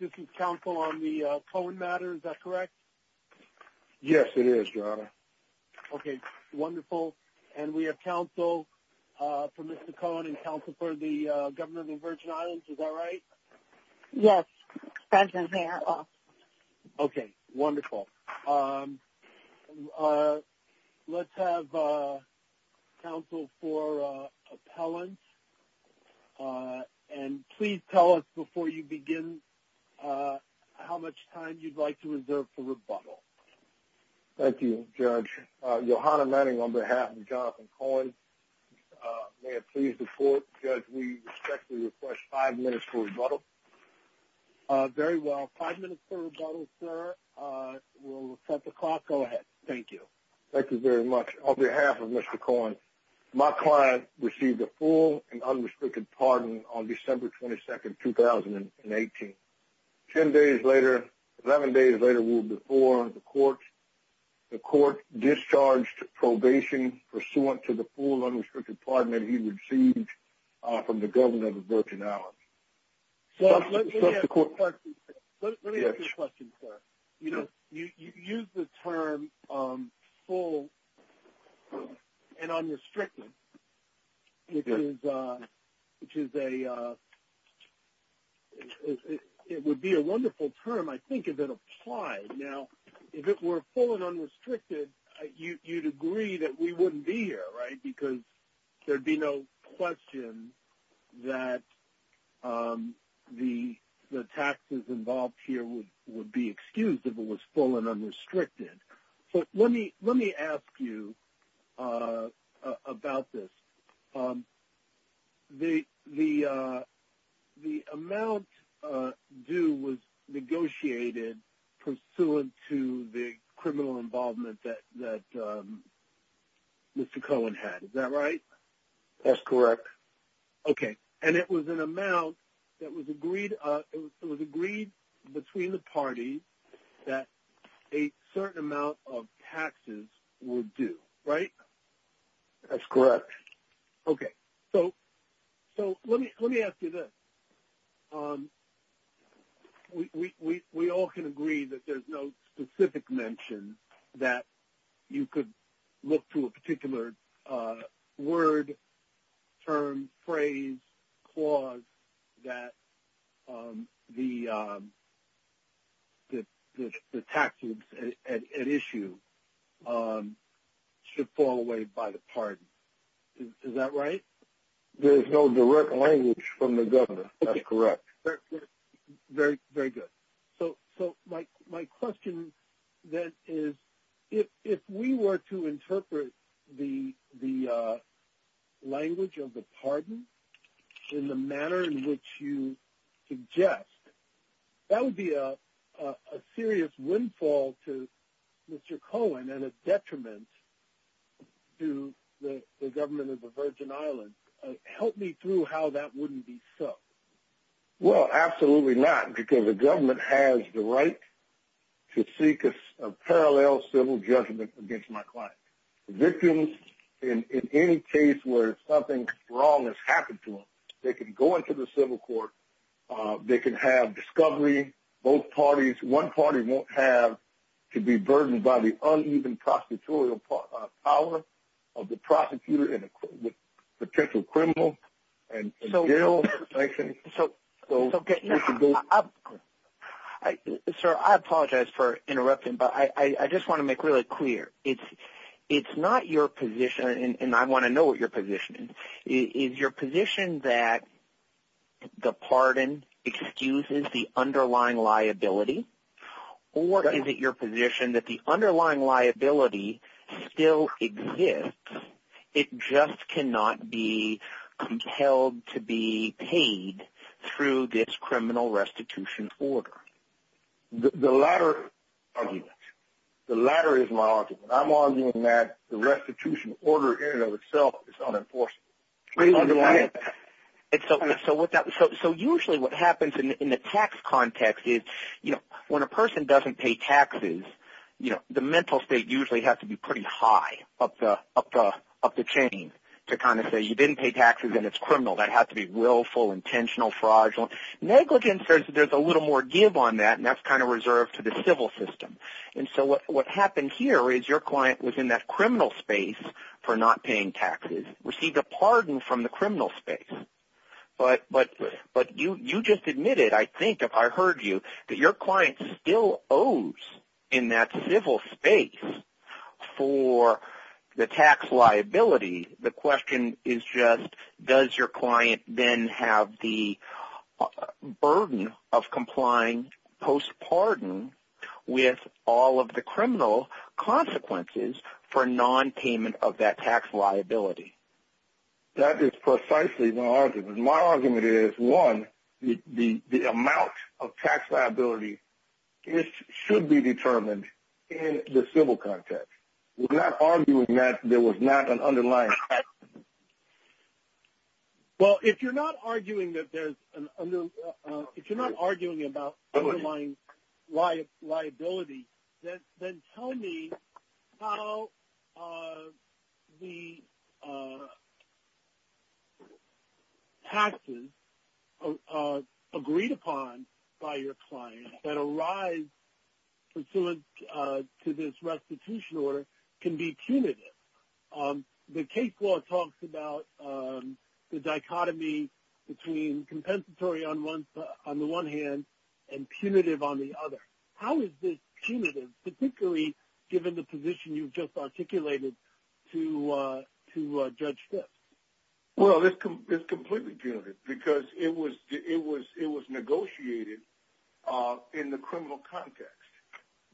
This is counsel on the Cohen matter, is that correct? Yes, it is, your honor. Okay, wonderful. And we have counsel for Mr. Cohen and counsel for the governor of the Virgin Islands, is that right? Yes, that's right, your honor. Okay, wonderful. Let's have counsel for appellant, and please tell us before you begin how much time you'd like to reserve for rebuttal. Thank you, judge. Your honor, on behalf of Jonathan Cohen, may I please report, judge, we respectfully request five minutes for rebuttal. Very well, five minutes for rebuttal, sir. We'll set the clock. Go ahead. Thank you. Thank you very much. On behalf of Mr. Cohen, my client received a full and unrestricted pardon on December 22nd, 2018. Ten days later, eleven days later, or before, the court discharged probation pursuant to the full unrestricted pardon that he received from the governor of the Virgin Islands. Let me ask you a question, sir. You used the term full and unrestricted, which is a – it would be a wonderful term, I think, if it applied. Now, if it were full and unrestricted, you'd agree that we wouldn't be here, right, because there'd be no question that the taxes involved here would be excused if it was full and unrestricted. Let me ask you about this. The amount due was negotiated pursuant to the criminal involvement that Mr. Cohen had, is that right? That's correct. Okay. And it was an amount that was agreed between the parties that a certain amount of taxes would do, right? That's correct. Okay. So let me ask you this. We all can agree that there's no specific mention that you could look to a particular word, term, phrase, clause that the taxes at issue should fall away by the pardon. Is that right? There's no direct language from the governor. That's correct. Very good. So my question then is, if we were to interpret the language of the pardon in the manner in which you suggest, that would be a serious windfall to Mr. Cohen and a detriment to the government of the Virgin Islands. Help me through how that wouldn't be so. Well, absolutely not, because the government has the right to seek a parallel civil judgment against my client. Victims, in any case where something wrong has happened to them, they can go into the civil court, they can have discovery, both parties, one party won't have to be burdened by the uneven prosecutorial power of the prosecutor and the potential criminal. So, sir, I apologize for interrupting, but I just want to make really clear. It's not your position, and I want to know what your position is. Is your position that the pardon excuses the underlying liability? Or is it your position that the underlying liability still exists, it just cannot be compelled to be paid through this criminal restitution order? The latter is my argument. I'm arguing that the restitution order in and of itself is unenforceable. So usually what happens in the tax context is when a person doesn't pay taxes, the mental state usually has to be pretty high up the chain to kind of say you didn't pay taxes and it's criminal. That has to be willful, intentional, fraudulent. Negligence says there's a little more give on that, and that's kind of reserved to the civil system. And so what happens here is your client was in that criminal space for not paying taxes, received a pardon from the criminal space. But you just admitted, I think, if I heard you, that your client still owes in that civil space for the tax liability. The question is just does your client then have the burden of complying post-pardon with all of the criminal consequences for non-payment of that tax liability? That is precisely my argument. My argument is, one, the amount of tax liability should be determined in the civil context. We're not arguing that there was not an underlying tax liability. The amount of taxes agreed upon by your client that arise pursuant to this restitution order can be punitive. The case law talks about the dichotomy between compensatory on the one hand and punitive on the other. How is this punitive, particularly given the position you've just articulated to Judge Fisk? Well, it's completely punitive because it was negotiated in the criminal context.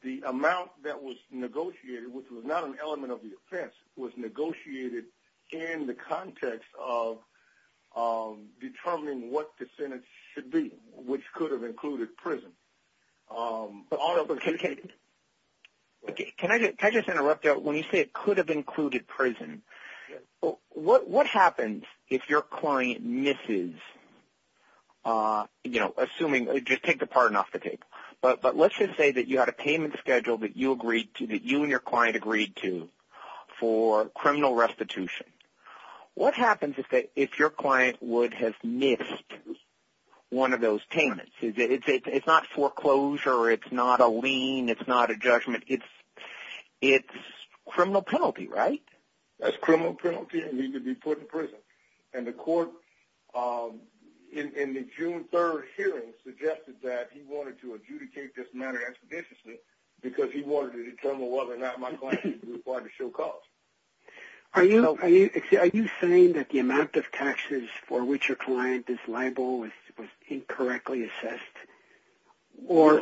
The amount that was negotiated, which was not an element of the offense, was negotiated in the context of determining what the sentence should be, which could have included prison. Can I just interrupt you? When you say it could have included prison, what happens if your client misses, assuming, just take the pardon off the table, but let's just say that you had a payment schedule that you and your client agreed to for criminal restitution. What happens if your client has missed one of those payments? It's not foreclosure. It's not a lien. It's not a judgment. It's criminal penalty, right? That's criminal penalty and needs to be put in prison. The court in the June 3rd hearing suggested that he wanted to adjudicate this matter expeditiously because he wanted to determine whether or not my client was required to show cause. Are you saying that the amount of taxes for which your client is liable was incorrectly assessed? Or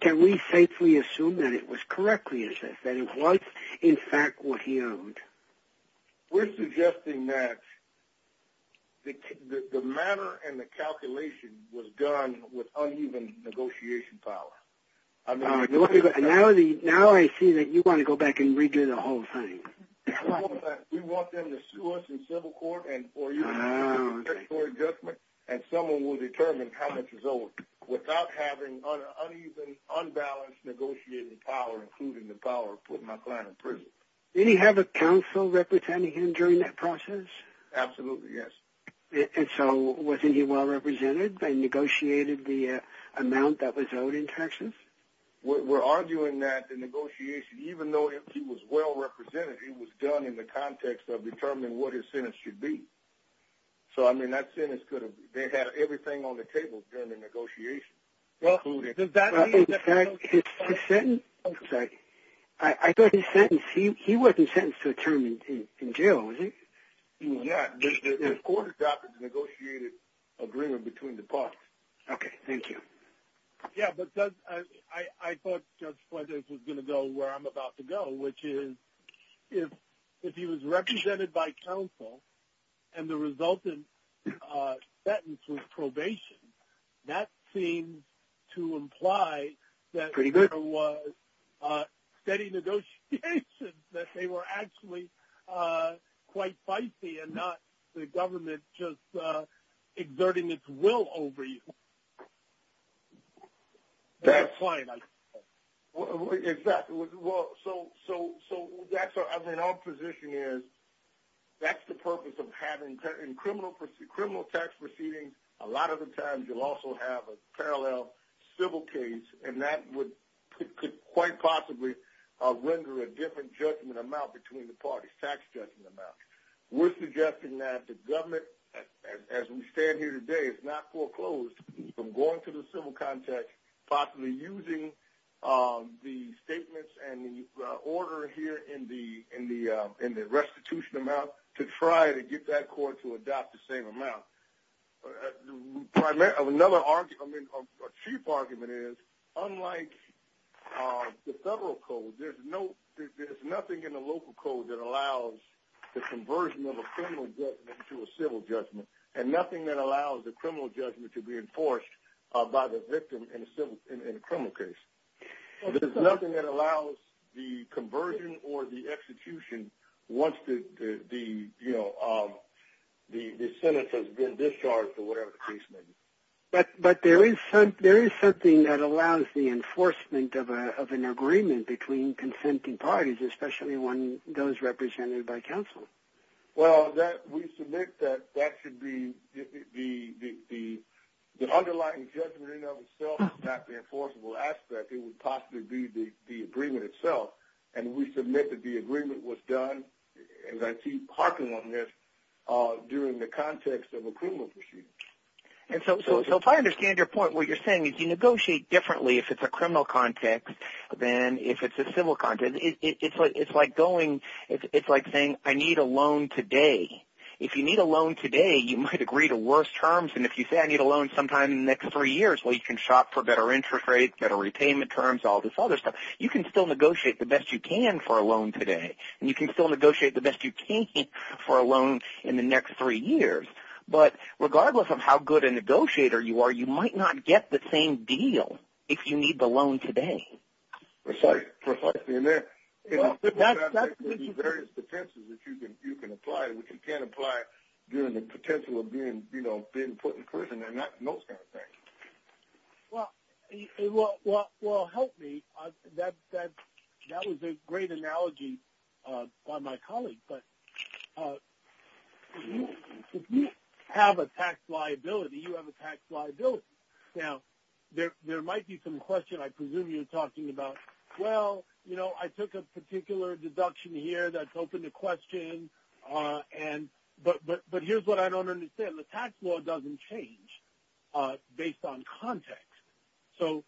can we safely assume that it was correctly assessed, that it was in fact what he owed? We're suggesting that the matter and the calculation was done with uneven negotiation power. Now I see that you want to go back and redo the whole thing. We want them to sue us in civil court and for you to make a statutory adjustment, and someone will determine how much is owed without having an uneven, unbalanced negotiating power, including the power of putting my client in prison. Did he have a counsel representing him during that process? Absolutely, yes. And so wasn't he well represented and negotiated the amount that was owed in taxes? We're arguing that the negotiation, even though he was well represented, it was done in the context of determining what his sentence should be. So I mean that sentence could have, they had everything on the table during the negotiation. I thought his sentence, he wasn't sentenced to a term in jail, was he? Yeah, his court adopted the negotiated agreement between the parties. Okay, thank you. Yeah, but I thought Judge Fuentes was going to go where I'm about to go, which is if he was represented by counsel and the resultant sentence was probation, that seems to imply that there was steady negotiations, that they were actually quite feisty and not the government just exerting its will over you. That's right. Exactly. So our position is that's the purpose of having criminal tax proceedings. A lot of the times you'll also have a parallel civil case, and that could quite possibly render a different judgment amount between the parties, tax judgment amount. We're suggesting that the government, as we stand here today, it's not foreclosed from going to the civil context, possibly using the statements and the order here in the restitution amount to try to get that court to adopt the same amount. Another argument, a chief argument is, unlike the federal code, there's nothing in the local code that allows the conversion of a criminal judgment to a civil judgment, and nothing that allows the criminal judgment to be enforced by the victim in a criminal case. There's nothing that allows the conversion or the execution once the sentence has been discharged or whatever the case may be. But there is something that allows the enforcement of an agreement between consenting parties, especially when those represented by counsel. Well, we submit that that should be the underlying judgment in and of itself, not the enforceable aspect. It would possibly be the agreement itself, and we submit that the agreement was done, as I see Harkin on this, during the context of a criminal proceedings. So if I understand your point, what you're saying is you negotiate differently if it's a criminal context than if it's a civil context. It's like saying, I need a loan today. If you need a loan today, you might agree to worse terms, and if you say, I need a loan sometime in the next three years, well, you can shop for better interest rates, better repayment terms, all this other stuff. You can still negotiate the best you can for a loan today, and you can still negotiate the best you can for a loan in the next three years. But regardless of how good a negotiator you are, you might not get the same deal if you need the loan today. Precisely, and there are various defenses that you can apply, which you can't apply during the potential of being put in prison and those kind of things. Well, help me. That was a great analogy by my colleague, but if you have a tax liability, you have a tax liability. Now, there might be some questions I presume you're talking about. Well, you know, I took a particular deduction here that's open to questioning, but here's what I don't understand. Well, the tax law doesn't change based on context. So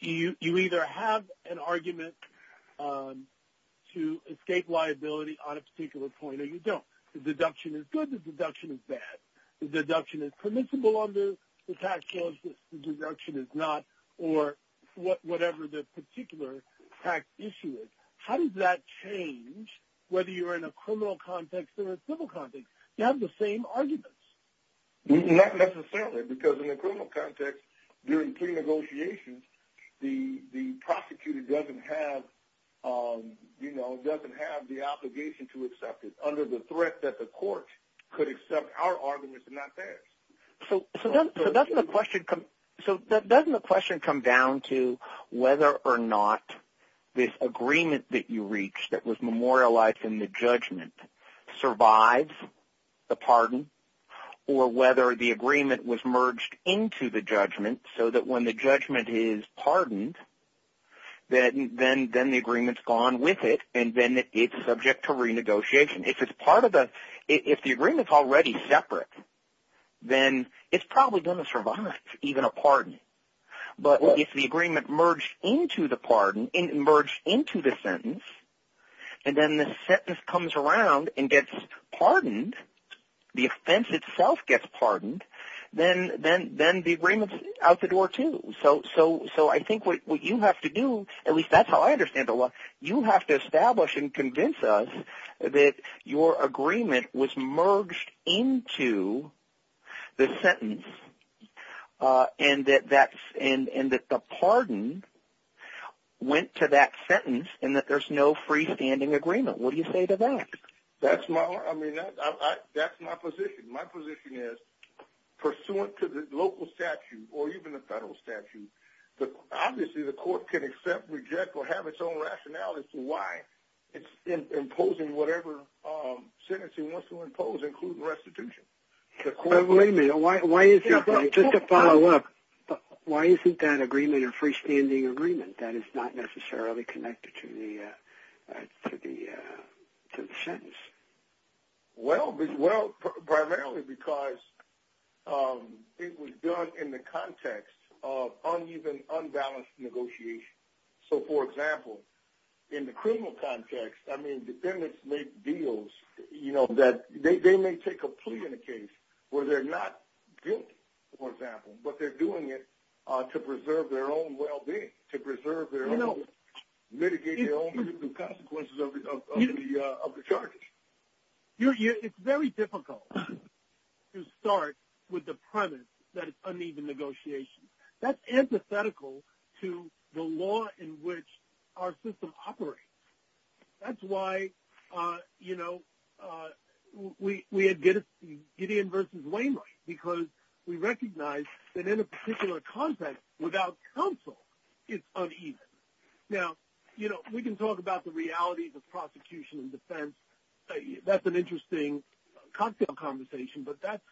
you either have an argument to escape liability on a particular point or you don't. The deduction is good, the deduction is bad. The deduction is permissible under the tax law, the deduction is not, or whatever the particular tax issue is. How does that change whether you're in a criminal context or a civil context? You have the same arguments. Not necessarily, because in a criminal context, during pre-negotiations, the prosecutor doesn't have the obligation to accept it under the threat that the court could accept our arguments and not theirs. So doesn't the question come down to whether or not this agreement that you reached that was memorialized in the judgment survives the pardon or whether the agreement was merged into the judgment so that when the judgment is pardoned, then the agreement's gone with it and then it's subject to renegotiation. If the agreement's already separate, then it's probably going to survive even a pardon. But if the agreement merged into the sentence and then the sentence comes around and gets pardoned, the offense itself gets pardoned, then the agreement's out the door too. So I think what you have to do, at least that's how I understand it, you have to establish and convince us that your agreement was merged into the sentence and that the pardon went to that sentence and that there's no freestanding agreement. What do you say to that? That's my position. My position is, pursuant to the local statute or even the federal statute, obviously the court can accept, reject, or have its own rationality as to why it's imposing whatever sentencing wants to impose, including restitution. Believe me, just to follow up, why isn't that agreement a freestanding agreement? That is not necessarily connected to the sentence. Well, primarily because it was done in the context of uneven, unbalanced negotiation. So, for example, in the criminal context, I mean, defendants make deals that they may take a plea in a case where they're not guilty, for example, but they're doing it to preserve their own well-being, to preserve their own, mitigate their own consequences of the charges. It's very difficult to start with the premise that it's uneven negotiation. That's antithetical to the law in which our system operates. That's why, you know, we had Gideon versus Waymer because we recognized that in a particular context, without counsel, it's uneven. Now, you know, we can talk about the realities of prosecution and defense. That's an interesting cocktail conversation, but that's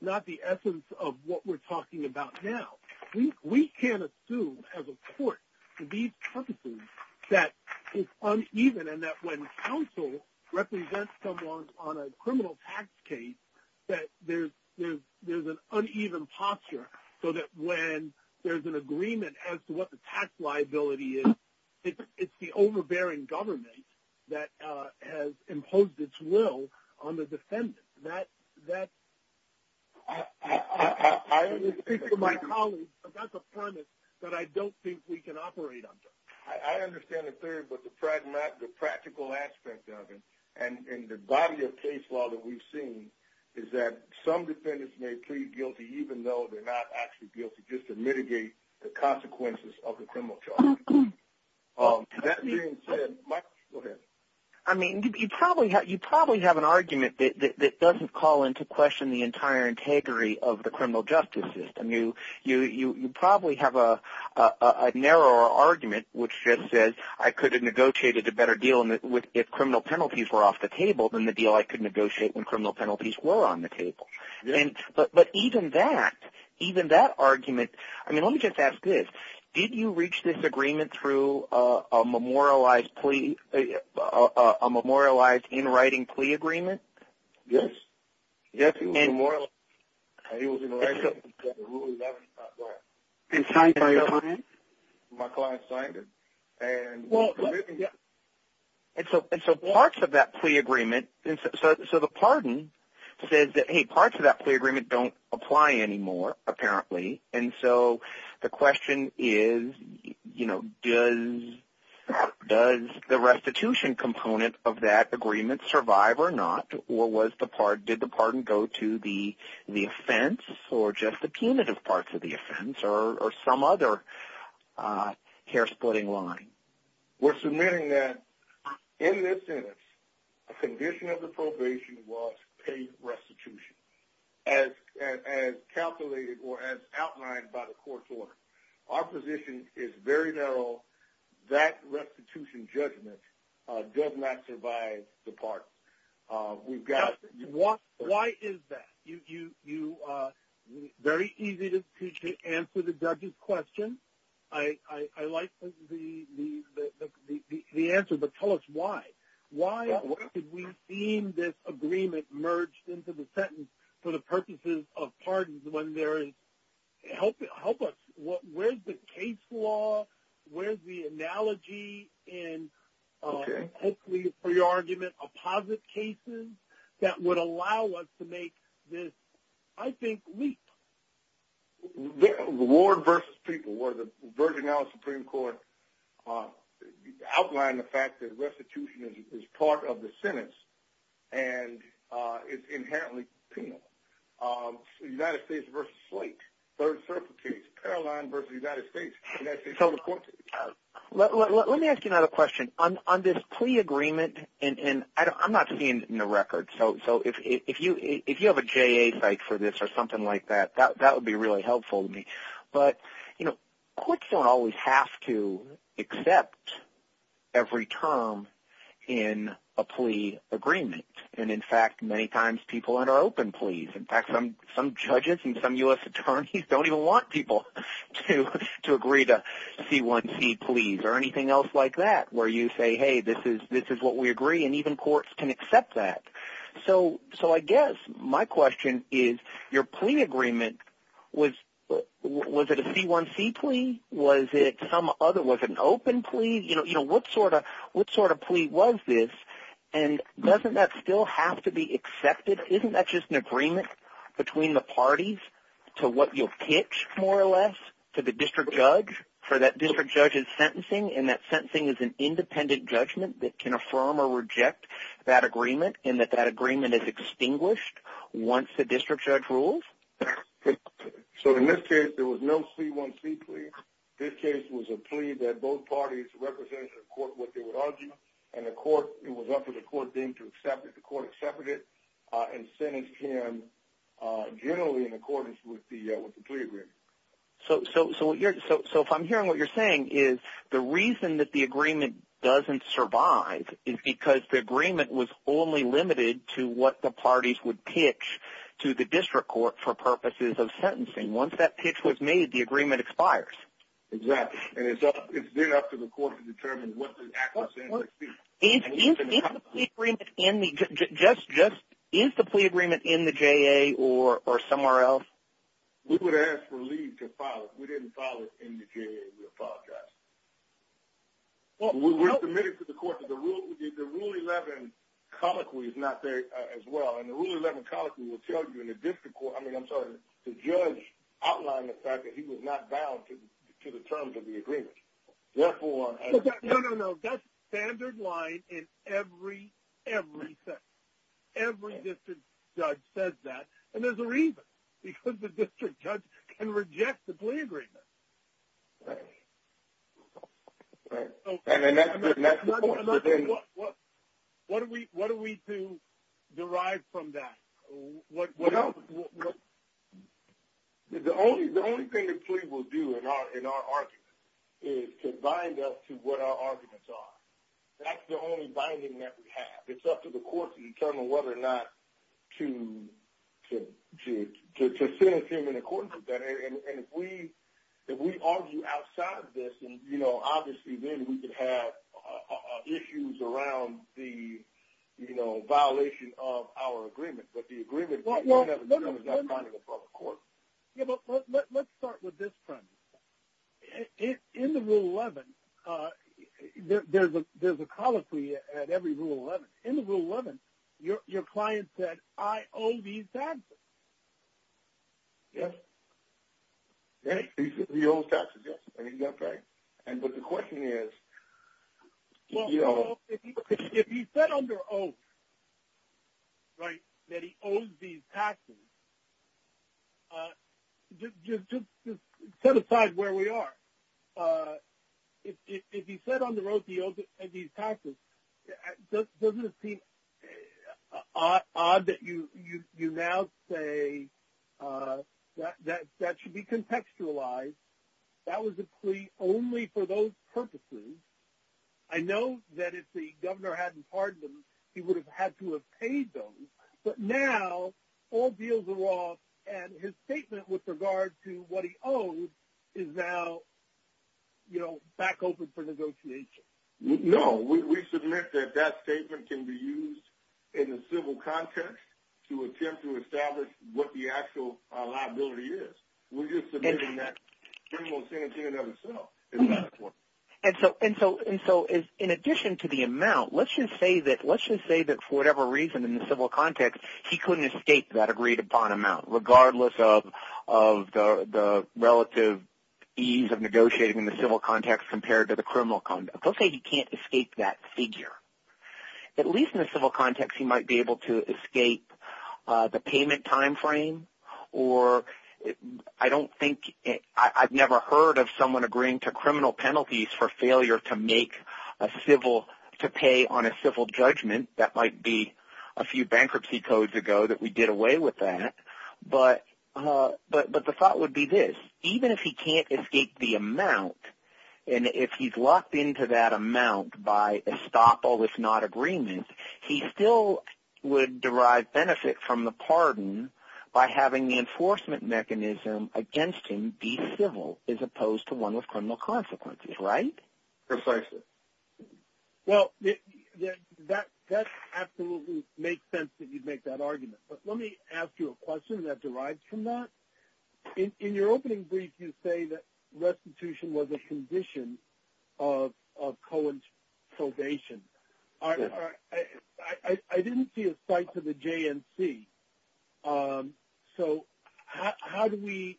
not the essence of what we're talking about now. We can't assume as a court for these purposes that it's uneven and that when counsel represents someone on a criminal tax case that there's an uneven posture so that when there's an agreement as to what the tax liability is, it's the overbearing government that has imposed its will on the defendant. I only speak for my colleagues, but that's a premise that I don't think we can operate under. I understand a third, but the practical aspect of it and the body of case law that we've seen is that some defendants may plead guilty even though they're not actually guilty just to mitigate the consequences of the criminal charges. I mean, you probably have an argument that doesn't call into question the entire integrity of the criminal justice system. You probably have a narrower argument which just says I could have negotiated a better deal if criminal penalties were off the table than the deal I could negotiate when criminal penalties were on the table. But even that argument – I mean, let me just ask this. Did you reach this agreement through a memorialized in-writing plea agreement? Yes. Yes, it was a memorial. It was an in-writing. My client signed it. And so parts of that plea agreement – so the pardon says that, hey, parts of that plea agreement don't apply anymore apparently, and so the question is does the restitution component of that agreement survive or not, or did the pardon go to the offense or just the punitive parts of the offense or some other hair-splitting line? We're submitting that in this sentence the condition of the probation was paid restitution as calculated or as outlined by the court order. Our position is very narrow. That restitution judgment does not survive the pardon. Why is that? Very easy to answer the judge's question. I like the answer, but tell us why. Why did we deem this agreement merged into the sentence for the purposes of pardons when there is – help us. Where's the case law? Where's the analogy in hopefully a pre-argument opposite cases that would allow us to make this, I think, leap? Ward v. People, where the Virgin Islands Supreme Court outlined the fact that restitution is part of the sentence and it's inherently penal. United States v. Slate, third circuit case, Paroline v. United States. Let me ask you another question. On this plea agreement, and I'm not seeing it in the record, so if you have a JA site for this or something like that, that would be really helpful to me. But courts don't always have to accept every term in a plea agreement. And, in fact, many times people enter open pleas. In fact, some judges and some U.S. attorneys don't even want people to agree to C1C pleas or anything else like that where you say, hey, this is what we agree, and even courts can accept that. So I guess my question is your plea agreement, was it a C1C plea? Was it some other – was it an open plea? What sort of plea was this? And doesn't that still have to be accepted? Isn't that just an agreement between the parties to what you've pitched, more or less, to the district judge for that district judge's sentencing and that sentencing is an independent judgment that can affirm or reject that agreement and that that agreement is extinguished once the district judge rules? So in this case, there was no C1C plea. This case was a plea that both parties represented to the court what they would argue, and the court – it was up to the court then to accept it. The court accepted it and sentenced him generally in accordance with the plea agreement. So if I'm hearing what you're saying is the reason that the agreement doesn't survive is because the agreement was only limited to what the parties would pitch to the district court for purposes of sentencing. Once that pitch was made, the agreement expires. Exactly. And it's then up to the court to determine what the actual sentence is. Is the plea agreement in the JA or somewhere else? We would ask for leave to file it. We didn't file it in the JA. We apologized. We submitted it to the court, but the Rule 11 colloquy is not there as well. And the Rule 11 colloquy will tell you in the district court – I mean, I'm sorry, the judge outlined the fact that he was not bound to the terms of the agreement. No, no, no. That's standard line in every sentence. Every district judge says that, and there's a reason, because the district judge can reject the plea agreement. Right. And that's the point. What are we to derive from that? The only thing the plea will do in our argument is to bind us to what our arguments are. That's the only binding that we have. It's up to the court to determine whether or not to sentence him in accordance with that. And if we argue outside of this, you know, obviously then we could have issues around the, you know, violation of our agreement. But the agreement – Let's start with this premise. In the Rule 11, there's a colloquy at every Rule 11. In the Rule 11, your client said, I owe these taxes. Yes. Yes, he owes taxes, yes. That's right. But the question is, you know – If he said under owes, right, that he owes these taxes, just set aside where we are. If he said under owes, he owes these taxes, doesn't it seem odd that you now say that that should be contextualized? That was a plea only for those purposes. I know that if the governor hadn't pardoned him, he would have had to have paid those. But now all deals are off, and his statement with regard to what he owes is now, you know, back open for negotiation. No. We submit that that statement can be used in a civil context to attempt to establish what the actual liability is. We're just submitting that pretty much the same thing in and of itself. And so in addition to the amount, let's just say that for whatever reason in the civil context, he couldn't escape that agreed-upon amount, regardless of the relative ease of negotiating in the civil context compared to the criminal context. Let's say he can't escape that figure. At least in the civil context, he might be able to escape the payment timeframe. I've never heard of someone agreeing to criminal penalties for failure to pay on a civil judgment. That might be a few bankruptcy codes ago that we did away with that. But the thought would be this. Even if he can't escape the amount, and if he's locked into that amount by estoppel, if not agreement, he still would derive benefit from the pardon by having the enforcement mechanism against him be civil as opposed to one with criminal consequences. Right? Precisely. Well, that absolutely makes sense that you'd make that argument. But let me ask you a question that derives from that. In your opening brief, you say that restitution was a condition of Cohen's probation. I didn't see a cite to the JNC. So how do we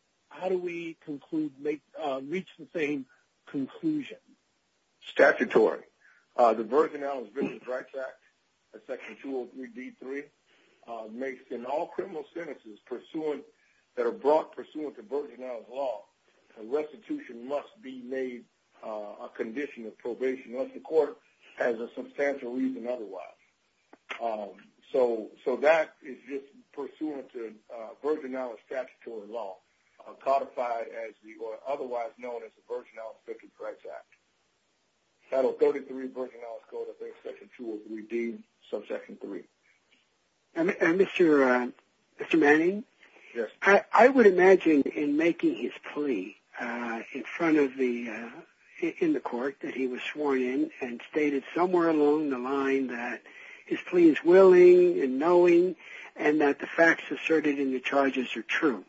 reach the same conclusion? Statutory. The Virgin Islands Visas Rights Act, Section 203D3, makes that in all criminal sentences that are brought pursuant to Virgin Islands law, restitution must be made a condition of probation of the court as a substantial reason otherwise. So that is just pursuant to Virgin Islands statutory law, codified as the otherwise known as the Virgin Islands Visas Rights Act. Title 33, Virgin Islands Code, Section 203D, subsection 3. Mr. Manning? Yes. I would imagine in making his plea in front of the court that he was sworn in and stated somewhere along the line that his plea is willing and knowing and that the facts asserted in the charges are true,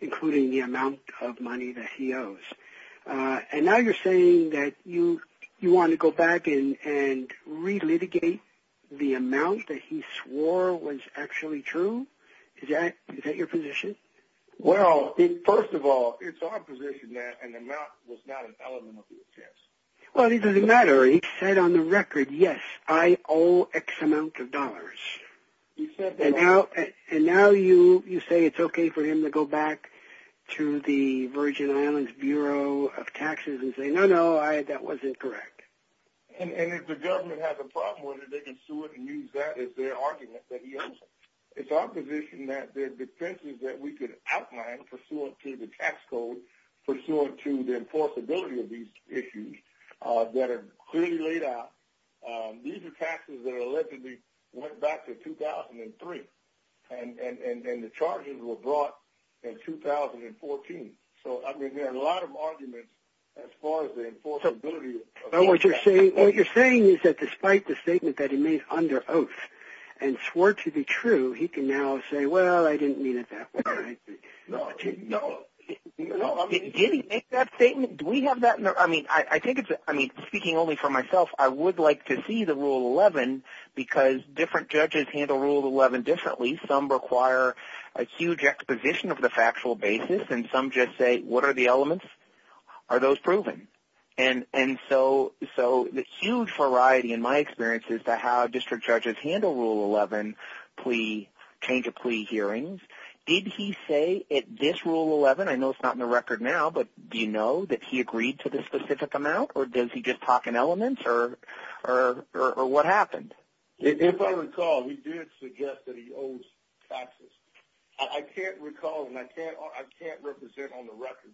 including the amount of money that he owes. And now you're saying that you want to go back and re-litigate the amount that he swore was actually true? Is that your position? Well, first of all, it's our position that an amount was not an element of the offense. Well, it doesn't matter. He said on the record, yes, I owe X amount of dollars. And now you say it's okay for him to go back to the Virgin Islands Bureau of Taxes and say, no, no, that wasn't correct. And if the government has a problem with it, they can sue it and use that as their argument that he owes. It's our position that there are defenses that we could outline pursuant to the tax code, pursuant to the enforceability of these issues that are clearly laid out. These are taxes that are allegedly went back to 2003, and the charges were brought in 2014. So, I mean, there are a lot of arguments as far as the enforceability. What you're saying is that despite the statement that he made under oath and swore to be true, he can now say, well, I didn't mean it that way. No, no. Did he make that statement? Do we have that? I mean, speaking only for myself, I would like to see the Rule 11 because different judges handle Rule 11 differently. Some require a huge exposition of the factual basis, and some just say, what are the elements? Are those proven? And so the huge variety in my experience is how district judges handle Rule 11 change of plea hearings. Did he say at this Rule 11, I know it's not in the record now, but do you know that he agreed to this specific amount, or does he just talk in elements, or what happened? If I recall, he did suggest that he owes taxes. I can't recall, and I can't represent on the record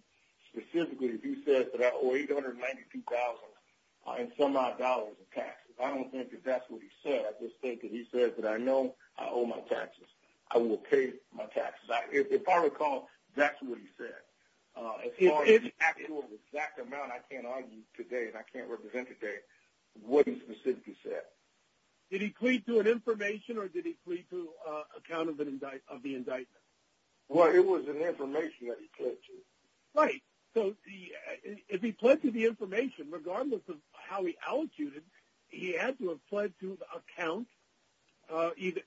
specifically if he said that I owe $892,000 and some odd dollars in taxes. I don't think that that's what he said. I just think that he said that I know I owe my taxes. I will pay my taxes. If I recall, that's what he said. As far as the actual exact amount, I can't argue today, and I can't represent today what he specifically said. Did he plead to an information, or did he plead to account of the indictment? Well, it was an information that he pled to. Right. So if he pled to the information, regardless of how he allocated, he had to have pled to the account,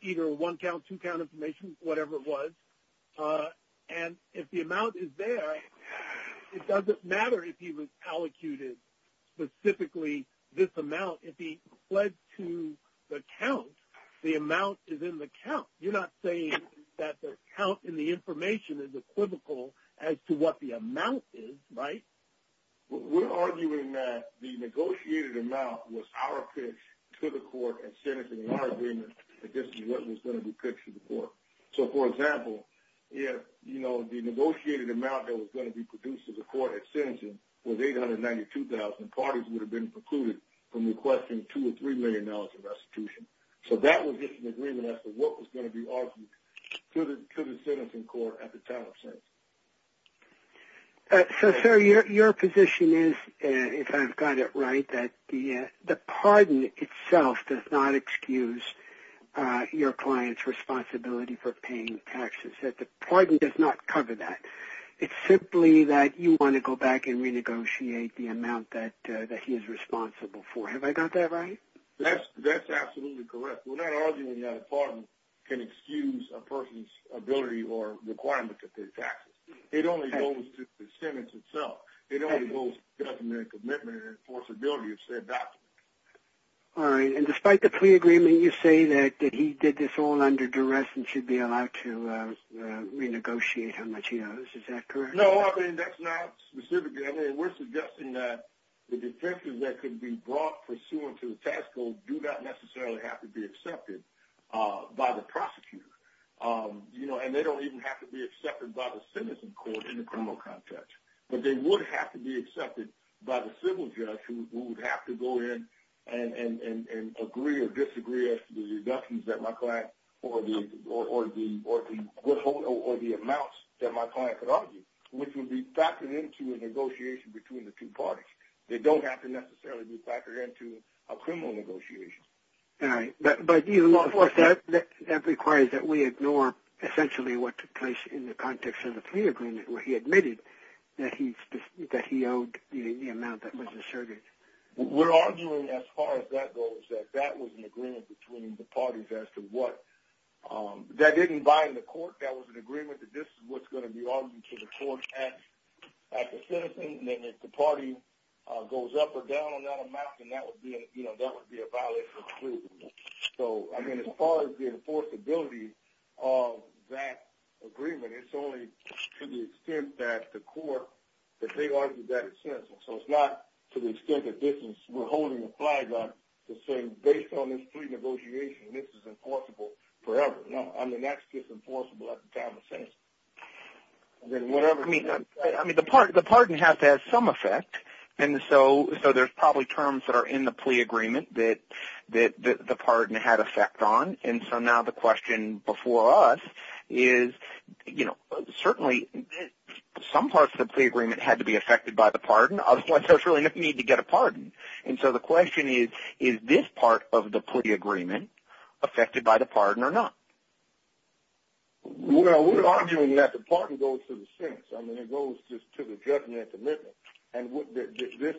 either one count, two count information, whatever it was. And if the amount is there, it doesn't matter if he was allocated specifically this amount. If he pled to the count, the amount is in the count. You're not saying that the count in the information is equivocal as to what the amount is, right? We're arguing that the negotiated amount was our pitch to the court and sentencing in our agreement that this is what was going to be pitched to the court. So, for example, if the negotiated amount that was going to be produced to the court at sentencing was $892,000, parties would have been precluded from requesting $2 million or $3 million in restitution. So that was just an agreement as to what was going to be argued to the sentencing court at the time of sentencing. So, sir, your position is, if I've got it right, that the pardon itself does not excuse your client's responsibility for paying taxes, that the pardon does not cover that. It's simply that you want to go back and renegotiate the amount that he is responsible for. Have I got that right? That's absolutely correct. We're not arguing that a pardon can excuse a person's ability or requirement to pay taxes. It only goes to the sentence itself. It only goes to self-admitted commitment and enforceability of said document. All right. And despite the plea agreement, you say that he did this all under duress and should be allowed to renegotiate how much he owes. Is that correct? No, I mean, that's not specific. I mean, we're suggesting that the defenses that could be brought pursuant to the tax code do not necessarily have to be accepted by the prosecutor. And they don't even have to be accepted by the sentencing court in the criminal context. But they would have to be accepted by the civil judge who would have to go in and agree or disagree as to the reductions that my client or the amounts that my client could argue, which would be factored into a negotiation between the two parties. They don't have to necessarily be factored into a criminal negotiation. All right. But that requires that we ignore essentially what took place in the context of the plea agreement where he admitted that he owed the amount that was asserted. We're arguing as far as that goes that that was an agreement between the parties as to what. That didn't bind the court. That was an agreement that this is what's going to be argued to the court at the sentencing. And if the party goes up or down on that amount, then that would be a violation of the plea. So, I mean, as far as the enforceability of that agreement, it's only to the extent that the court that they argue that at sentencing. So it's not to the extent that this is we're holding a flag up to say based on this plea negotiation, this is enforceable forever. No, I mean, that's just enforceable at the time of sentencing. I mean, the pardon has to have some effect. And so there's probably terms that are in the plea agreement that the pardon had effect on. And so now the question before us is, you know, certainly some parts of the plea agreement had to be affected by the pardon. Others don't necessarily need to get a pardon. And so the question is, is this part of the plea agreement affected by the pardon or not? Well, we're arguing that the pardon goes to the sentence. I mean, it goes to the judgment and commitment. And this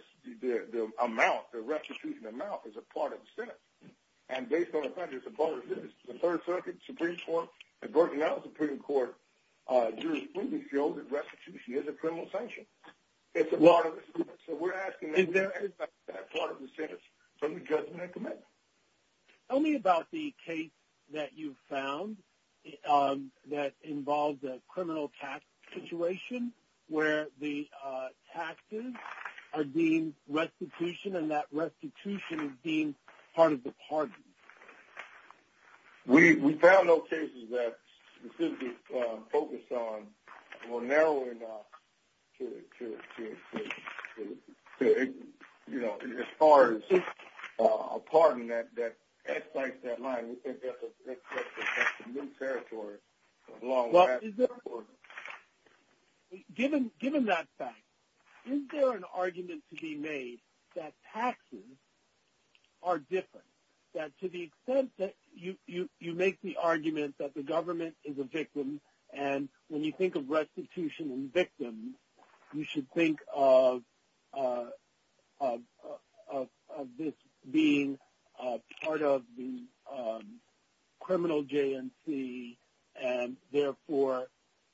amount, the restitution amount, is a part of the sentence. And based on the fact that it's a part of the sentence, the Third Circuit, the Supreme Court, the Virginia Supreme Court, jurisprudently feel that restitution is a criminal sanction. It's a part of the sentence. So we're asking is there any part of the sentence from the judgment and commitment? Tell me about the case that you found that involved a criminal tax situation where the taxes are deemed restitution and that restitution is deemed part of the pardon. We found those cases that we focused on were narrow enough to, you know, as far as a pardon, we think that's a new territory. Given that fact, is there an argument to be made that taxes are different, that to the extent that you make the argument that the government is a victim and when you think of restitution and victims, you should think of this being part of the criminal J&C and therefore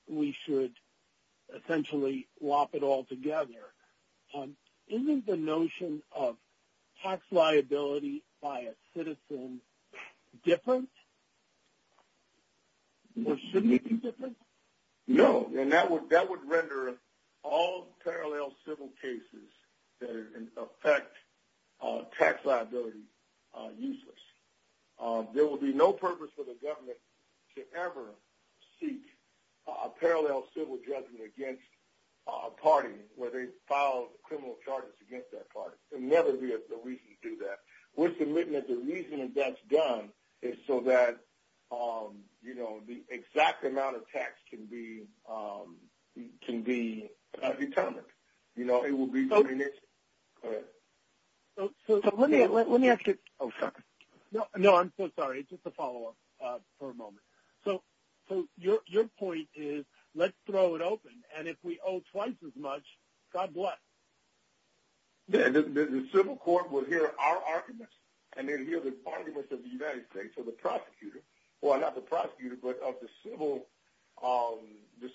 we should essentially lop it all together. Isn't the notion of tax liability by a citizen different? Shouldn't it be different? No. And that would render all parallel civil cases that affect tax liability useless. There would be no purpose for the government to ever seek a parallel civil judgment against a party where they filed criminal charges against that party. There would never be a reason to do that. We're submitting that the reason that that's done is so that, you know, the exact amount of tax can be determined. You know, it would be the initial. So let me ask you. Oh, sorry. No, I'm so sorry. It's just a follow-up for a moment. So your point is let's throw it open, and if we owe twice as much, God bless. The civil court will hear our arguments and they'll hear the arguments of the United States or the prosecutor. Well, not the prosecutor, but of the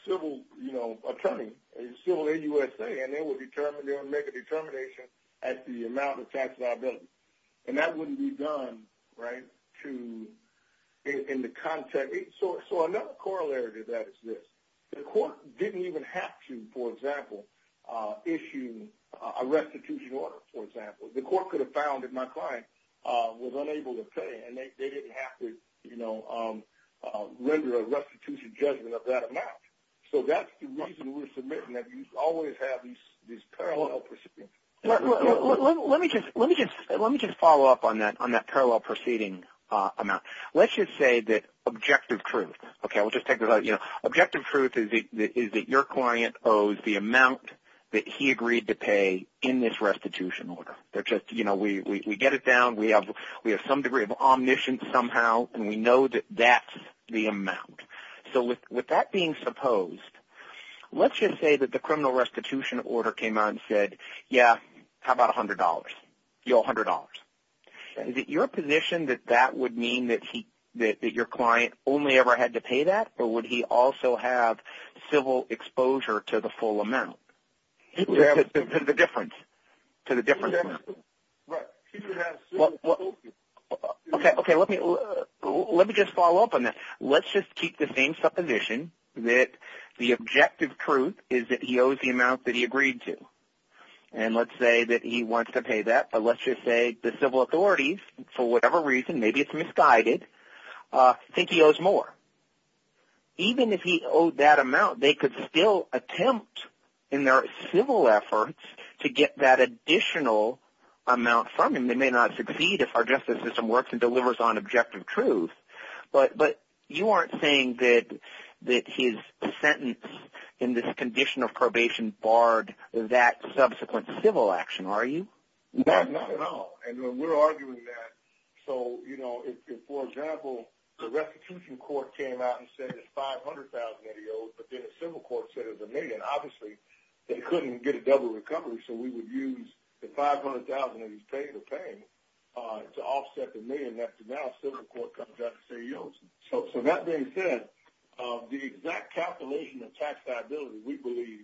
civil, you know, attorney. And they will make a determination at the amount of tax liability. And that wouldn't be done, right, in the context. So another corollary to that is this. The court didn't even have to, for example, issue a restitution order, for example. The court could have found that my client was unable to pay and they didn't have to, you know, render a restitution judgment of that amount. So that's the reason we're submitting that you always have this parallel proceeding. Let me just follow up on that parallel proceeding amount. Let's just say that objective truth. Okay, we'll just take this out. You know, objective truth is that your client owes the amount that he agreed to pay in this restitution order. They're just, you know, we get it down, we have some degree of omniscience somehow, and we know that that's the amount. So with that being supposed, let's just say that the criminal restitution order came on and said, yeah, how about $100? You owe $100. Is it your position that that would mean that your client only ever had to pay that, or would he also have civil exposure to the full amount? To the difference. To the difference. Okay, let me just follow up on that. Let's just keep the same supposition that the objective truth is that he owes the amount that he agreed to. And let's say that he wants to pay that, but let's just say the civil authorities, for whatever reason, maybe it's misguided, think he owes more. Even if he owed that amount, they could still attempt in their civil efforts to get that additional amount from him. They may not succeed if our justice system works and delivers on objective truth. But you aren't saying that his sentence in this condition of probation barred that subsequent civil action, are you? No, not at all. And we're arguing that. So, you know, for example, the restitution court came out and said it's $500,000 that he owes, but then a civil court said it's a million. Obviously, they couldn't get a double recovery, so we would use the $500,000 that he's paid for paying to offset the million that the now civil court comes out to say he owes. So that being said, the exact calculation of tax liability, we believe,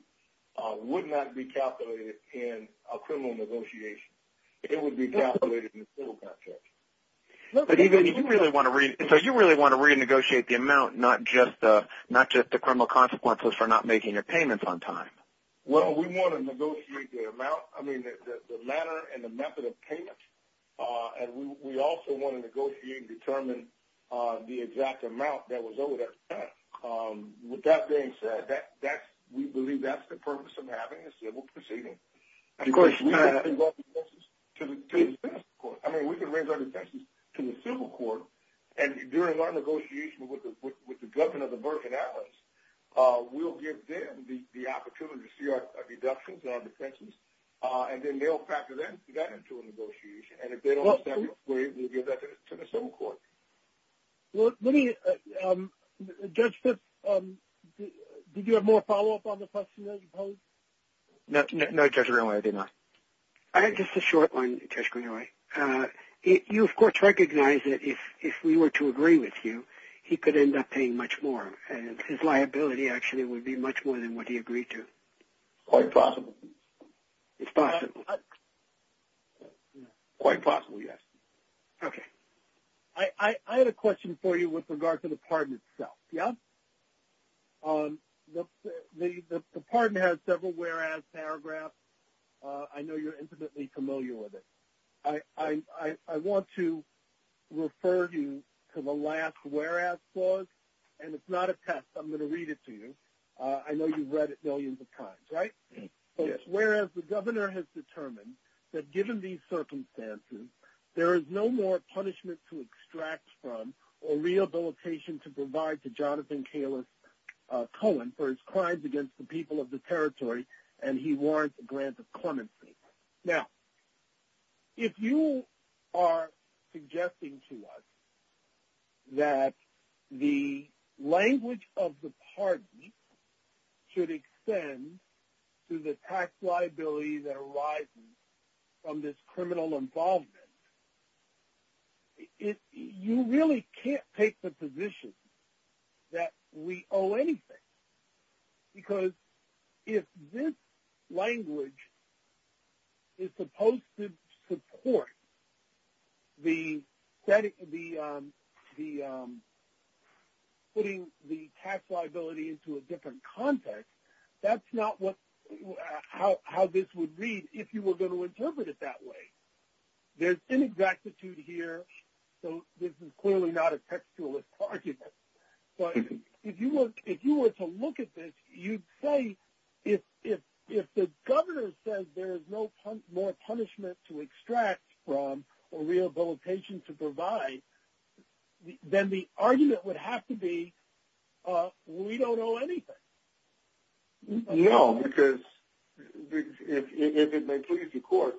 would not be calculated in a criminal negotiation. It would be calculated in a civil contract. So you really want to renegotiate the amount, not just the criminal consequences for not making your payments on time? Well, we want to negotiate the amount, I mean, the manner and the method of payment, and we also want to negotiate and determine the exact amount that was owed at the time. With that being said, we believe that's the purpose of having a civil proceeding. And, of course, we can bring those cases to the civil court. I mean, we can bring those cases to the civil court, and during our negotiation with the government of the Burkina Falcons, we'll give them the opportunity to see our deductions, our deductions, and then they'll factor that into a negotiation. And if they don't accept it, we'll give that to the civil court. Well, let me – Judge Fitz, did you have more follow-up on the question, I suppose? No, Judge Greenway, I did not. I had just a short one, Judge Greenway. You, of course, recognize that if we were to agree with you, he could end up paying much more, and his liability actually would be much more than what he agreed to. It's quite possible. It's possible. Quite possible, yes. Okay. I had a question for you with regard to the pardon itself, yeah? The pardon has several whereas paragraphs. I know you're intimately familiar with it. I want to refer you to the last whereas clause, and it's not a test. I'm going to read it to you. I know you've read it millions of times, right? Yes. So it's, whereas the governor has determined that given these circumstances, there is no more punishment to extract from or rehabilitation to provide to Jonathan Kalis Cohen for his crimes against the people of the territory, and he warrants a grant of clemency. Now, if you are suggesting to us that the language of the pardon should extend to the tax liability that arises from this criminal involvement, you really can't take the position that we owe anything, because if this language is supposed to support putting the tax liability into a different context, that's not how this would read if you were going to interpret it that way. There's inexactitude here, so this is clearly not a textualist argument. But if you were to look at this, you'd say if the governor says there is no more punishment to extract from or rehabilitation to provide, then the argument would have to be we don't owe anything. No, because if it may please the court,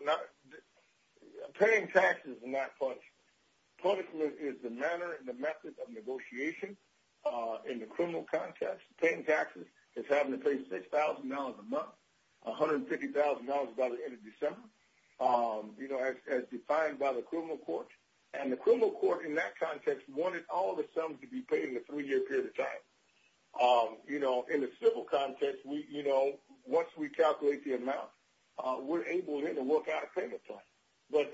paying taxes is not punishment. Punishment is the manner and the method of negotiation in the criminal context. Paying taxes is having to pay $6,000 a month, $150,000 by the end of December. As defined by the criminal court. And the criminal court in that context wanted all the sums to be paid in a three-year period of time. In the civil context, once we calculate the amount, we're able then to work out a payment plan. But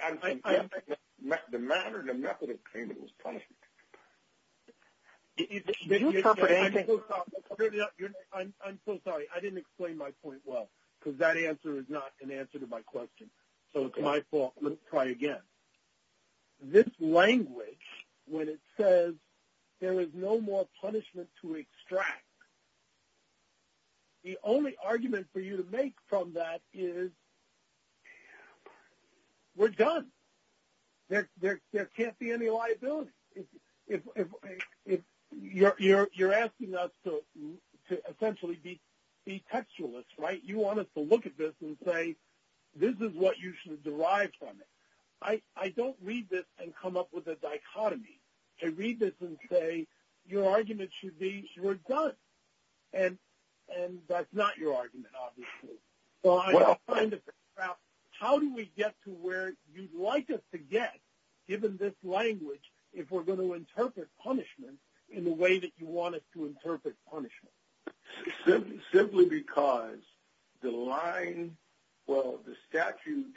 the manner and the method of payment is punishment. I'm so sorry. I didn't explain my point well, because that answer is not an answer to my question. So it's my fault. Let's try again. This language, when it says there is no more punishment to extract, the only argument for you to make from that is we're done. There can't be any liability. You're asking us to essentially be textualists, right? You want us to look at this and say this is what you should derive from it. I don't read this and come up with a dichotomy. I read this and say your argument should be we're done. And that's not your argument, obviously. How do we get to where you'd like us to get, given this language, if we're going to interpret punishment in the way that you want us to interpret punishment? Simply because the line, well, the statute,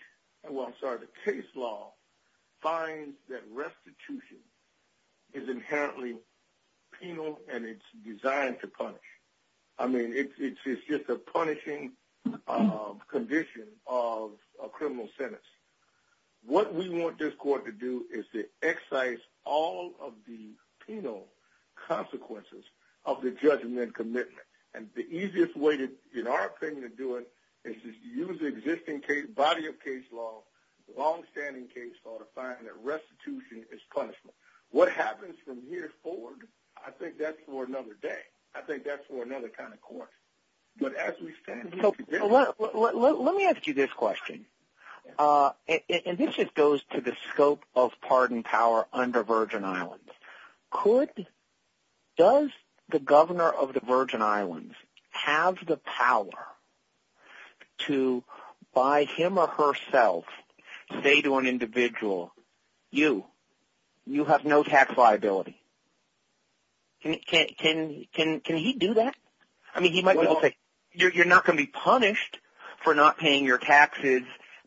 well, sorry, the case law, finds that restitution is inherently penal and it's designed to punish. I mean, it's just a punishing condition of a criminal sentence. What we want this court to do is to excise all of the penal consequences of the judgment commitment. And the easiest way, in our opinion, to do it is to use the existing body of case law, longstanding case law, to find that restitution is punishment. What happens from here forward, I think that's for another day. I think that's for another kind of court. Let me ask you this question, and this just goes to the scope of pardon power under Virgin Islands. Does the governor of the Virgin Islands have the power to, by him or herself, say to an individual, you, you have no tax liability? Can he do that? I mean, he might be able to say, you're not going to be punished for not paying your taxes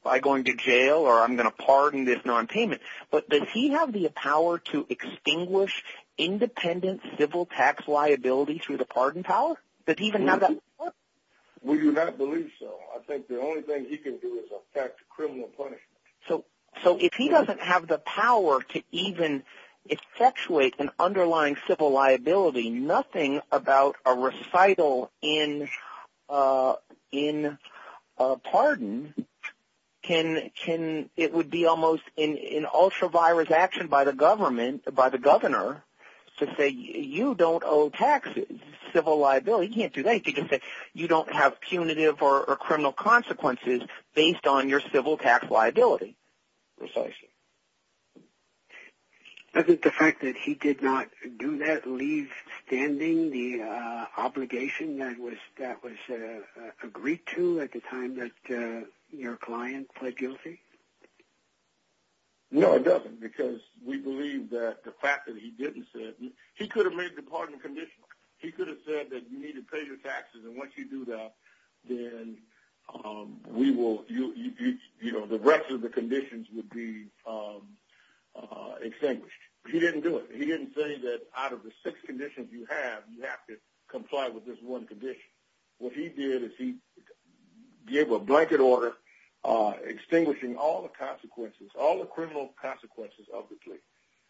by going to jail, or I'm going to pardon this nonpayment. But does he have the power to extinguish independent civil tax liability through the pardon power? Does he even have that power? We do not believe so. I think the only thing he can do is effect criminal punishment. If he doesn't have the power to even effectuate an underlying civil liability, nothing about a recital in pardon, it would be almost an ultra-virus action by the governor to say, you don't owe taxes, civil liability. He can't do that. He can say, you don't have punitive or criminal consequences based on your civil tax liability. Precisely. Doesn't the fact that he did not do that leave standing the obligation that was agreed to at the time that your client pled guilty? No, it doesn't, because we believe that the fact that he didn't say it, he could have made the pardon conditional. He could have said that you need to pay your taxes, and once you do that, then the rest of the conditions would be extinguished. He didn't do it. He didn't say that out of the six conditions you have, you have to comply with this one condition. What he did is he gave a blanket order extinguishing all the consequences, all the criminal consequences of the plea,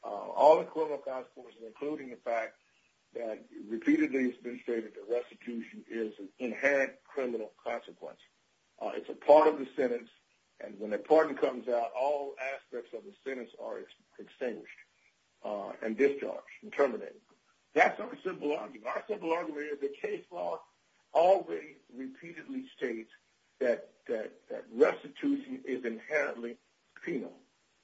all the criminal consequences, including the fact that repeatedly it's been stated that restitution is an inherent criminal consequence. It's a part of the sentence, and when the pardon comes out, all aspects of the sentence are extinguished and discharged, and terminated. That's not a simple argument. Our simple argument is the case law always repeatedly states that restitution is inherently penal.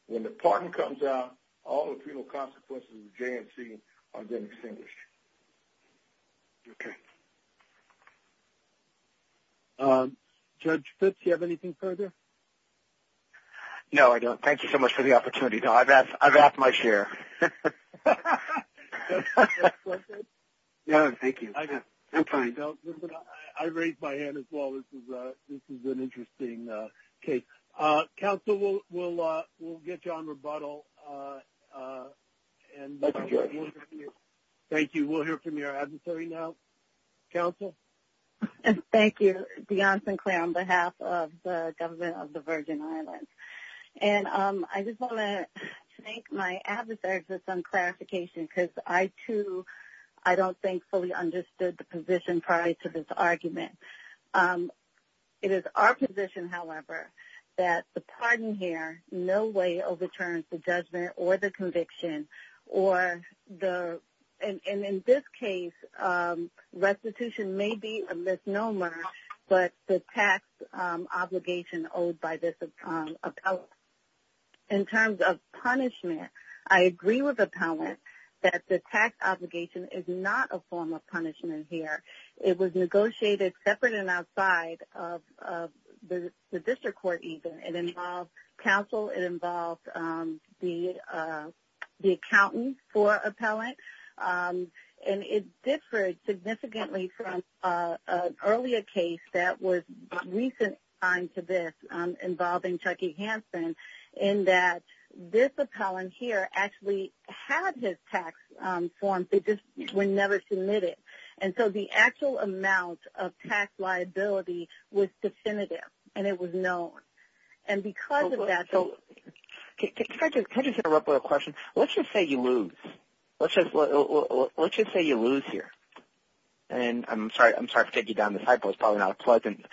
When the pardon comes out, all the penal consequences of the J&C are then extinguished. Okay. Judge Fitz, do you have anything further? No, I don't. Thank you so much for the opportunity. I've asked my share. No, thank you. I'm fine. I raised my hand as well. This is an interesting case. Counsel, we'll get you on rebuttal. Thank you. We'll hear from your adversary now. Counsel? Thank you. Dionne Sinclair on behalf of the government of the Virgin Islands. And I just want to thank my adversary for some clarification, because I too I don't think fully understood the position prior to this argument. It is our position, however, that the pardon here no way overturns the judgment or the conviction. And in this case, restitution may be a misnomer, but the tax obligation owed by this appellant. In terms of punishment, I agree with appellant that the tax obligation is not a form of punishment here. It was negotiated separate and outside of the district court even. It involved counsel. It involved the accountant for appellant. And it differed significantly from an earlier case that was recent signed to this involving Chuckie Hanson, in that this appellant here actually had his tax forms. They just were never submitted. And so the actual amount of tax liability was definitive, and it was known. And because of that. Can I just interrupt with a question? Let's just say you lose. Let's just say you lose here. And I'm sorry, I'm sorry to get you down this high post, probably not a pleasant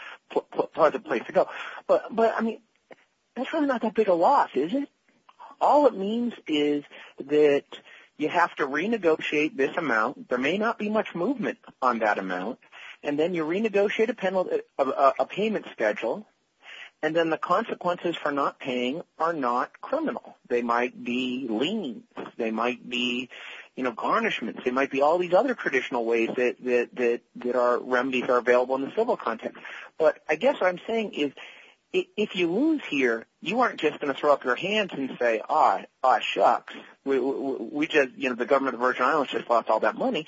place to go. But, I mean, that's really not that big a loss, is it? All it means is that you have to renegotiate this amount. There may not be much movement on that amount. And then you renegotiate a payment schedule. And then the consequences for not paying are not criminal. They might be liens. They might be, you know, garnishments. They might be all these other traditional ways that our remedies are available in the civil context. But I guess what I'm saying is if you lose here, you aren't just going to throw up your hands and say, ah, shucks. We just, you know, the government of Virgin Islands just lost all that money.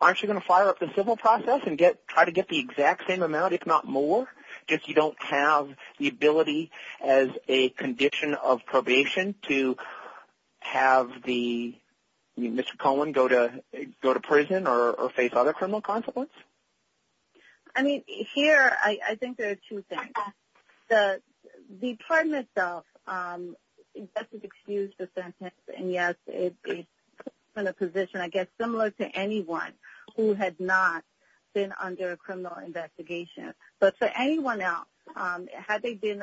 Aren't you going to fire up the civil process and try to get the exact same amount, if not more, if you don't have the ability as a condition of probation to have the, I mean, Mr. Cohen, go to prison or face other criminal consequences? I mean, here I think there are two things. The pardon itself, that's an excused sentence. And, yes, it's in a position, I guess, similar to anyone who had not been under a criminal investigation. But for anyone else, had they been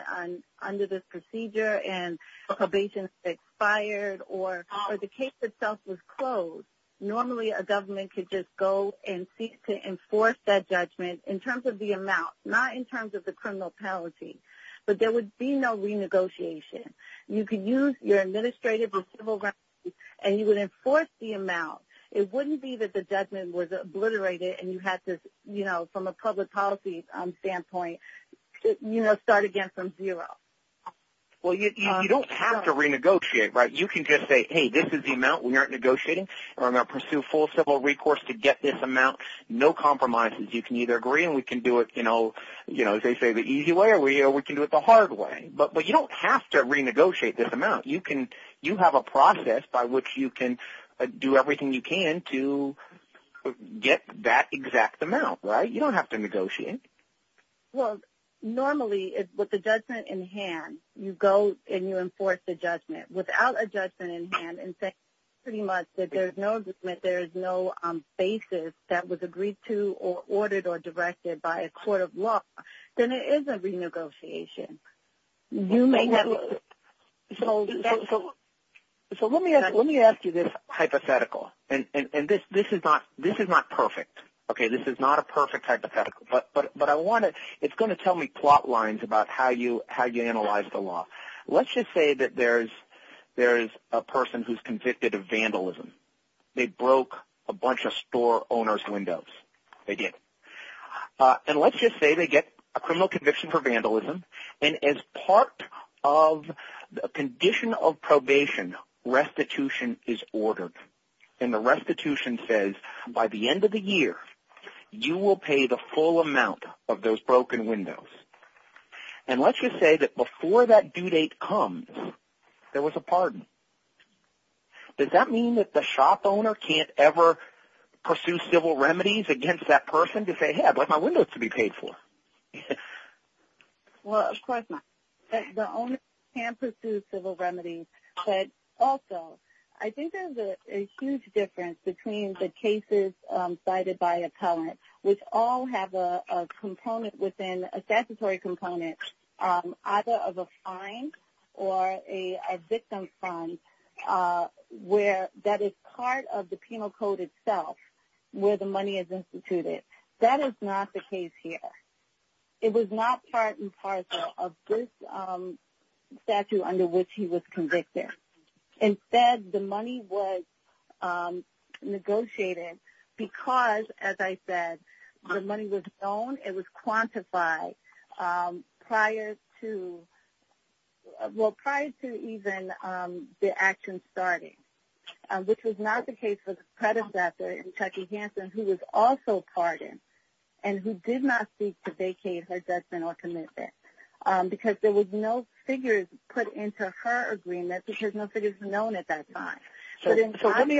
under this procedure and probation expired or the case itself was closed, normally a government could just go and seek to enforce that judgment in terms of the criminal penalty. But there would be no renegotiation. You could use your administrative and civil rights, and you would enforce the amount. It wouldn't be that the judgment was obliterated and you have to, you know, from a public policy standpoint, you know, start again from zero. Well, you don't have to renegotiate, right? You can just say, hey, this is the amount we aren't negotiating, or I'm going to pursue full civil recourse to get this amount. No compromises. You can either agree and we can do it, you know, as they say, the easy way, or we can do it the hard way. But you don't have to renegotiate this amount. You have a process by which you can do everything you can to get that exact amount, right? You don't have to negotiate. Well, normally, with the judgment in hand, you go and you enforce the judgment. Without a judgment in hand, and pretty much that there's no basis that was agreed to or ordered or directed by a court of law, then it is a renegotiation. So let me ask you this hypothetical. And this is not perfect. Okay, this is not a perfect hypothetical. But I want to – it's going to tell me plot lines about how you analyze the law. Let's just say that there's a person who's convicted of vandalism. They broke a bunch of store owner's windows. They did. And let's just say they get a criminal conviction for vandalism. And as part of a condition of probation, restitution is ordered. And the restitution says, by the end of the year, you will pay the full amount of those broken windows. And let's just say that before that due date comes, there was a pardon. Does that mean that the shop owner can't ever pursue civil remedies against that person to say, hey, I want my windows to be paid for? Well, of course not. The owner can pursue civil remedies. But also, I think there's a huge difference between the cases cited by appellant, which all have a component within – a statutory component either of a fine or a victim's fine that is part of the penal code itself where the money is instituted. That is not the case here. It was not part and parcel of this statute under which he was convicted. Instead, the money was negotiated because, as I said, the money was known. It was quantified prior to – well, prior to even the action starting, which was not the case for the predecessor, Chuckie Hanson, who was also pardoned and who did not seek to vacate her judgment or commitment because there was no figures put into her agreement. There was no figures known at that time. So let me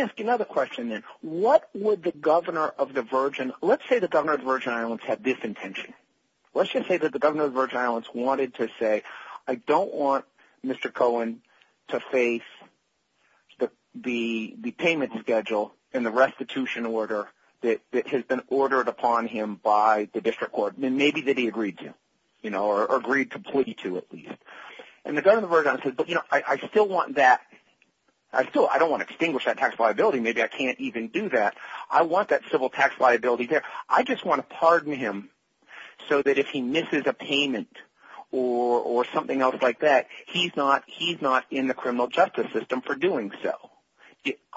ask you another question then. What would the governor of the Virgin – let's say the governor of the Virgin Islands had this intention. Let's just say that the governor of the Virgin Islands wanted to say, I don't want Mr. Cohen to face the payment schedule and the restitution order that has been ordered upon him by the district court. Maybe that he agreed to or agreed to plea to at least. And the governor of the Virgin Islands says, but I still want that. I don't want to extinguish that tax liability. Maybe I can't even do that. I want that civil tax liability there. I just want to pardon him so that if he misses a payment or something else like that, he's not in the criminal justice system for doing so.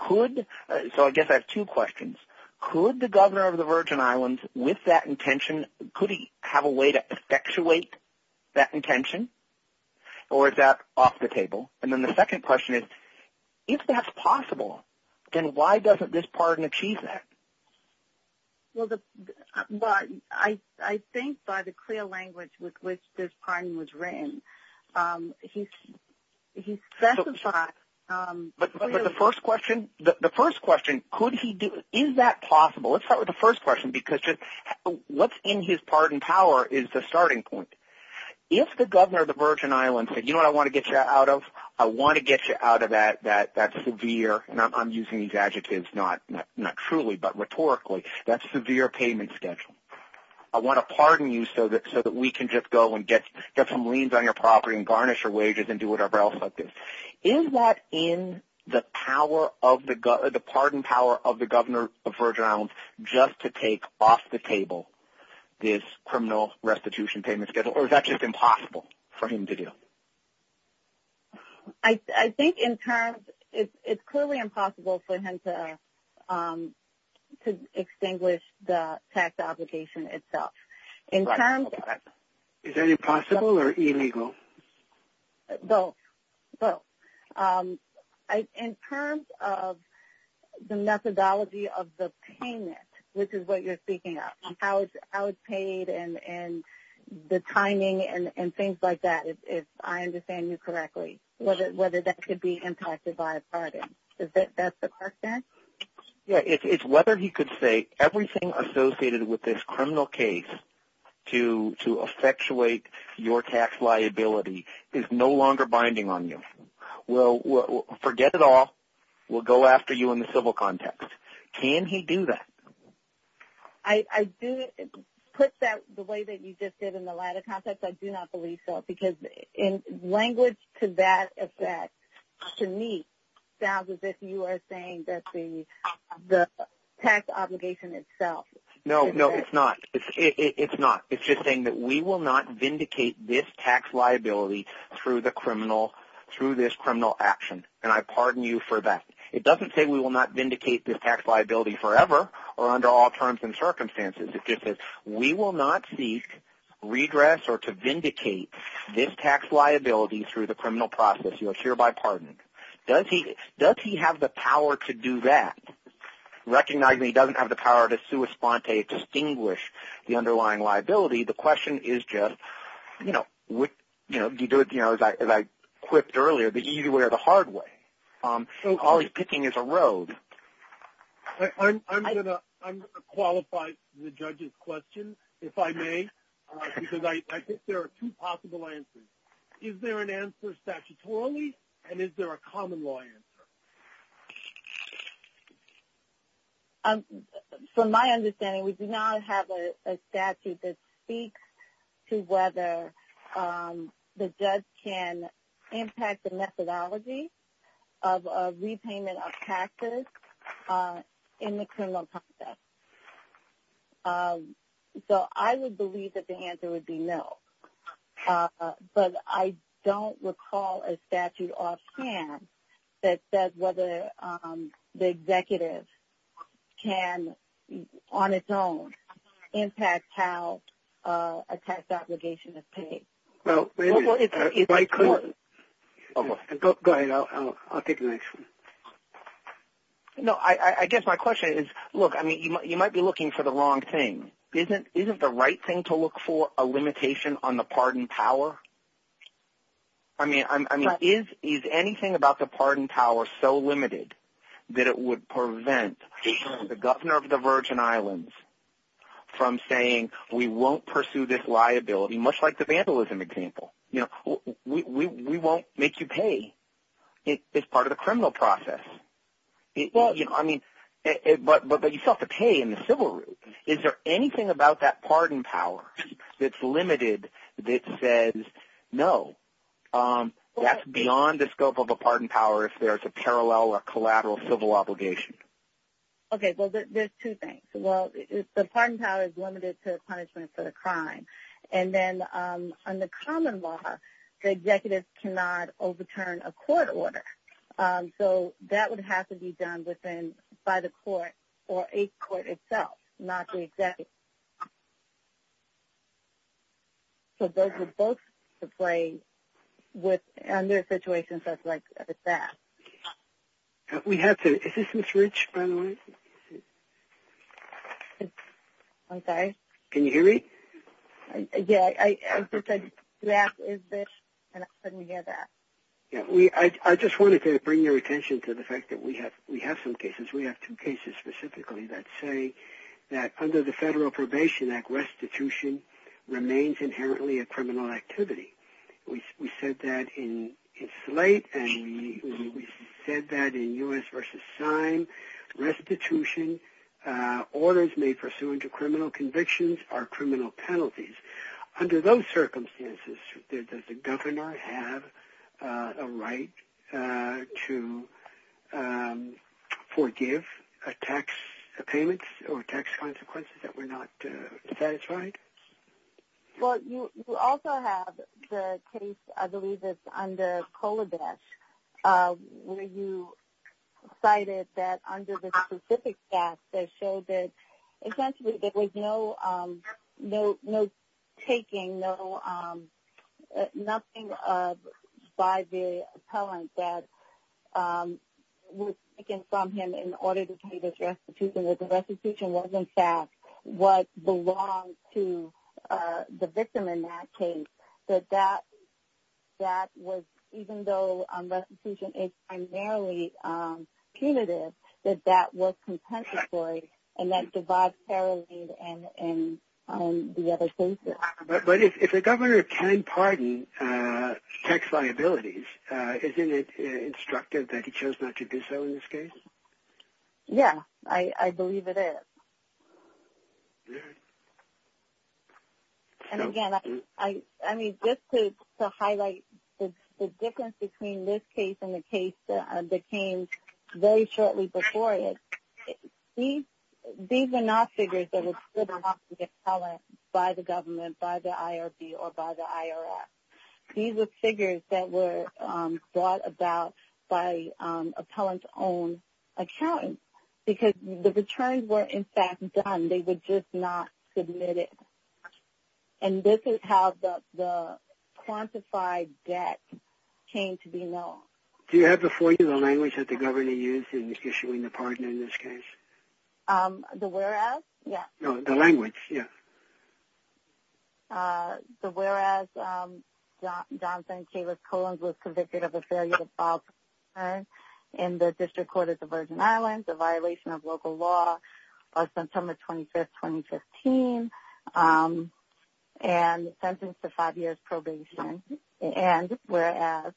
Could – so I guess I have two questions. Could the governor of the Virgin Islands, with that intention, could he have a way to effectuate that intention or is that off the table? And then the second question is, if that's possible, then why doesn't this pardon achieve that? Well, I think by the clear language with which this pardon was written, he specified – But the first question, could he do – is that possible? Let's start with the first question because what's in his pardon power is the starting point. If the governor of the Virgin Islands said, you know what I want to get you out of? I want to get you out of that severe – and I'm using these adjectives not truly but rhetorically – that severe payment schedule. I want to pardon you so that we can just go and get some liens on your property and garnish your wages and do whatever else like this. Is that in the power of the – the pardon power of the governor of the Virgin Islands just to take off the table this criminal restitution payment schedule or is that just impossible for him to do? I think in terms – it's clearly impossible for him to extinguish the tax obligation itself. In terms of – Is that impossible or illegal? Both, both. In terms of the methodology of the payment, which is what you're speaking of, and how it's paid and the timing and things like that, if I understand you correctly, whether that could be impacted by a pardon. Is that the question? Yeah, it's whether he could say everything associated with this criminal case to effectuate your tax liability is no longer binding on you. Well, forget it all. We'll go after you in the civil context. Can he do that? I do put that the way that you just did in the latter context. I do not believe so because language to that effect, to me, sounds as if you are saying that the tax obligation itself – No, no, it's not. It's not. It's just saying that we will not vindicate this tax liability through the criminal – through this criminal action, and I pardon you for that. It doesn't say we will not vindicate this tax liability forever or under all terms and circumstances. It just says we will not seek redress or to vindicate this tax liability through the criminal process, you know, hereby pardoning. Does he have the power to do that? Recognizing he doesn't have the power to sua sponte, distinguish the underlying liability, the question is just, you know, as I quipped earlier, the easy way or the hard way. All he's picking is a road. I'm going to qualify the judge's question, if I may, because I think there are two possible answers. Is there an answer statutorily, and is there a common law answer? From my understanding, we do not have a statute that speaks to whether the judge can impact the methodology of repayment of taxes in the criminal process. So I would believe that the answer would be no. But I don't recall a statute offhand that says whether the executive can, on its own, impact how a tax obligation is paid. Well, if I could – go ahead. I'll take the next one. No, I guess my question is, look, I mean, you might be looking for the wrong thing. Isn't the right thing to look for a limitation on the pardon power? I mean, is anything about the pardon power so limited that it would prevent the governor of the Virgin Islands from saying we won't pursue this liability, much like the vandalism example? We won't make you pay. It's part of the criminal process. I mean, but you still have to pay in the civil route. Is there anything about that pardon power that's limited that says no? That's beyond the scope of a pardon power if there's a parallel or collateral civil obligation. Okay, well, there's two things. Well, the pardon power is limited to the punishment for the crime. And then under common law, the executive cannot overturn a court order. So that would have to be done by the court or a court itself, not the executive. So those are both to play under situations just like that. We have to – is this Ms. Rich, by the way? I'm sorry? Can you hear me? Yeah. I was just going to ask, is this putting together? Yeah. I just wanted to bring your attention to the fact that we have some cases. We have two cases specifically that say that under the Federal Probation Act, restitution remains inherently a criminal activity. We said that in Slate, and we said that in U.S. restitution, orders made pursuant to criminal convictions are criminal penalties. Under those circumstances, does the governor have a right to forgive a tax payment or tax consequences that were not satisfied? Well, you also have the case, I believe it's under Kolodesh, where you cited that under the specific statute, it showed that essentially there was no taking, nothing by the appellant that was taken from him in order to take his restitution. The restitution was, in fact, what belonged to the victim in that case. So that was – even though restitution is primarily punitive, that that was compensatory, and that divides parole and the other cases. But if the governor can pardon tax liabilities, isn't it instructive that he chose not to do so in this case? Yeah, I believe it is. And again, I mean, just to highlight the difference between this case and the case that came very shortly before it, these are not figures that were stood about to be appellant by the government, by the IRB, or by the IRS. These are figures that were brought about by appellant-owned accountants because the returns were, in fact, done. They were just not submitted. And this is how the quantified debt came to be known. Do you have before you the language that the governor used in issuing the pardon in this case? The whereas? Yeah. No, the language, yeah. So whereas Johnson and Kalis-Cohen was convicted of a failure to file probation in the District Court of the Virgin Islands, a violation of local law on September 25, 2015, and sentenced to five years' probation. And whereas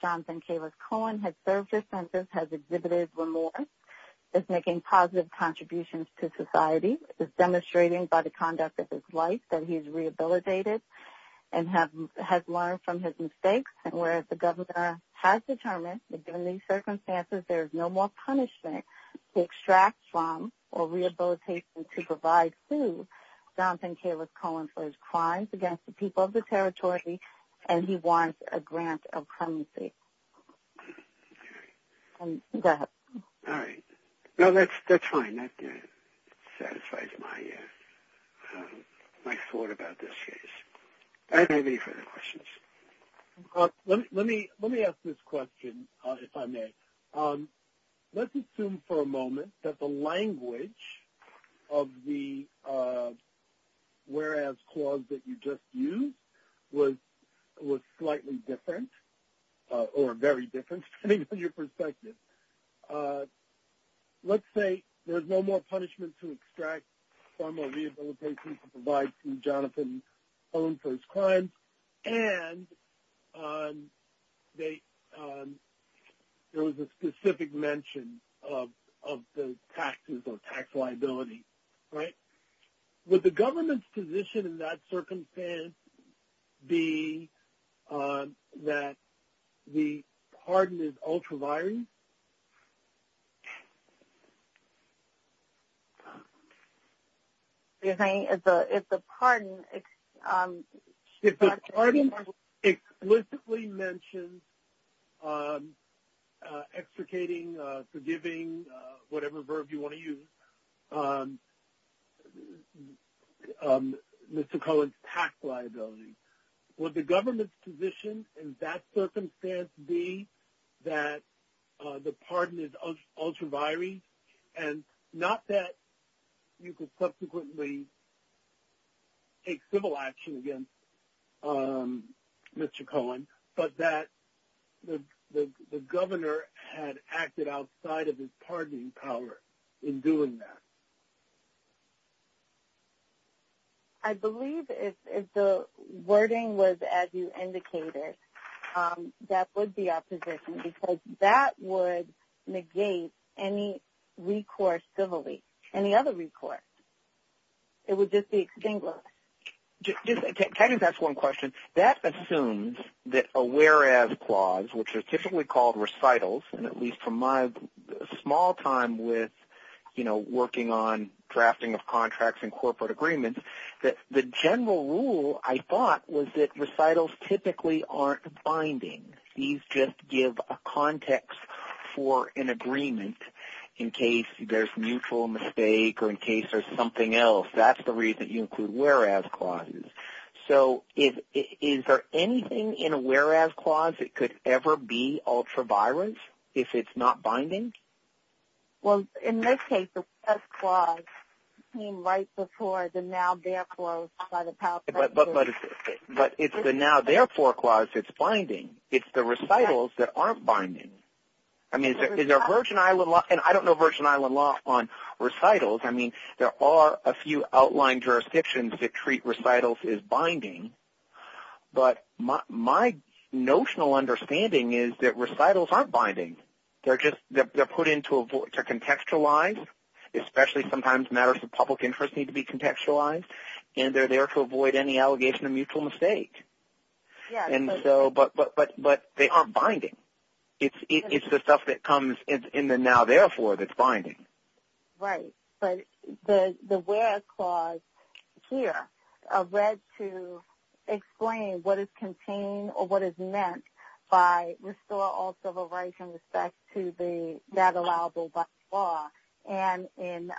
Johnson and Kalis-Cohen had served their sentence, has exhibited remorse, is making positive contributions to society, is demonstrating by the conduct of his life that he's rehabilitated and has learned from his mistakes. And whereas the governor has determined that during these circumstances there is no more punishment to extract from or rehabilitate from to provide to Johnson and Kalis-Cohen for his crimes against the people of the territory and he wants a grant of clemency. Okay. Go ahead. All right. No, that's fine. That didn't satisfy my thought about this case. Anybody have any further questions? Let me ask this question, if I may. Let's assume for a moment that the language of the whereas clause that you just Let's say there's no more punishment to extract from or rehabilitate from to provide to Johnson and Kalis-Cohen for his crimes, and there was a specific mention of the taxes or tax liability, right? Would the government's position in that circumstance be that the pardon is ultraviolent? You're saying if the pardon. If the pardon explicitly mentions extricating, forgiving, whatever verb you want to use, Mr. Cohen's tax liability, would the government's position in that circumstance be that the pardon is ultraviolent? And not that you could subsequently take civil action against Mr. Cohen, but that the governor had acted outside of his pardoning power in doing that? I believe if the wording was as you indicated, that would be our position, because that would negate any recourse civilly, any other recourse. It would just be extinguished. Can I just ask one question? That assumes that a whereas clause, which is typically called recitals, and at least from my small time with, you know, working on drafting of contracts and corporate agreements, that the general rule, I thought, was that recitals typically aren't binding. These just give a context for an agreement in case there's mutual mistake or in case there's something else. That's the reason you include whereas clauses. So is there anything in a whereas clause that could ever be ultraviolence, if it's not binding? Well, in this case, the whereas clause came right before the now therefore by the power of the court. But it's the now therefore clause that's binding. It's the recitals that aren't binding. I mean, is there a Virgin Island law? And I don't know Virgin Island law on recitals. I mean, there are a few outlined jurisdictions that treat recitals as binding. But my notional understanding is that recitals aren't binding. They're put in to contextualize, especially sometimes matters of public interest need to be contextualized, and they're there to avoid any allegation of mutual mistake. But they aren't binding. Right. But the whereas clause here led to explain what is contained or what is meant by restore all civil rights in respect to the not allowable by the law and in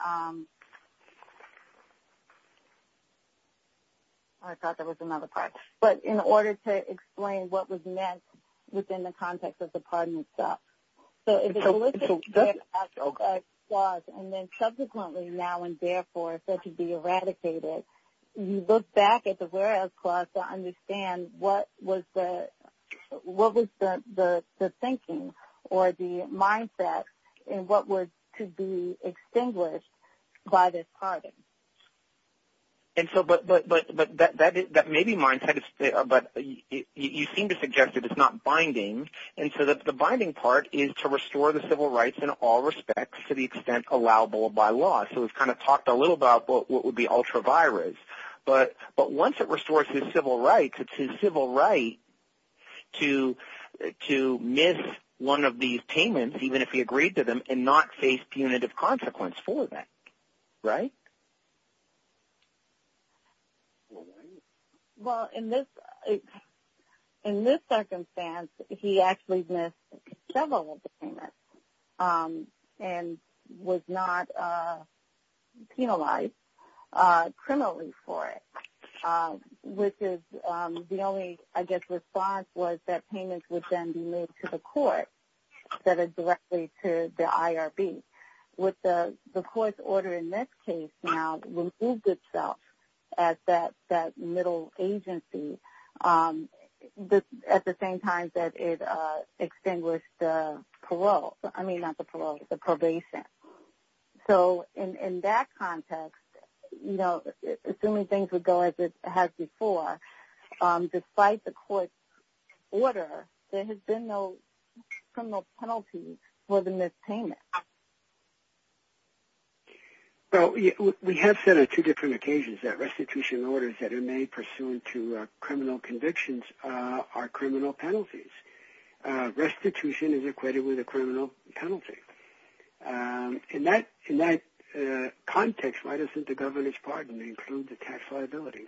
order to explain what was meant within the context of the pardon itself. So if it was a whereas clause and then subsequently now and therefore said to be eradicated, you look back at the whereas clause to understand what was the thinking or the mindset and what was to be extinguished by this pardon. But that may be mindset, but you seem to suggest that it's not binding. And so the binding part is to restore the civil rights in all respects to the extent allowable by law. So we've kind of talked a little about what would be ultra-virus. But once it restores his civil rights, it's his civil right to miss one of these payments, even if he agreed to them, and not face punitive consequence for that. Right? Well, in this circumstance, he actually missed several of the payments and was not penalized criminally for it, which is the only, I guess, response was that payments would then be moved to the court instead of directly to the IRB. And with the court's order in this case now removed itself as that middle agency at the same time that it extinguished parole. I mean, not the parole, the probation. So in that context, you know, assuming things would go as before, despite the court's order, there has been no criminal penalty for the missed payment. Well, we have said on two different occasions that restitution orders that are made pursuant to criminal convictions are criminal penalties. Restitution is equated with a criminal penalty. In that context, why doesn't the governor's pardon include the tax liability?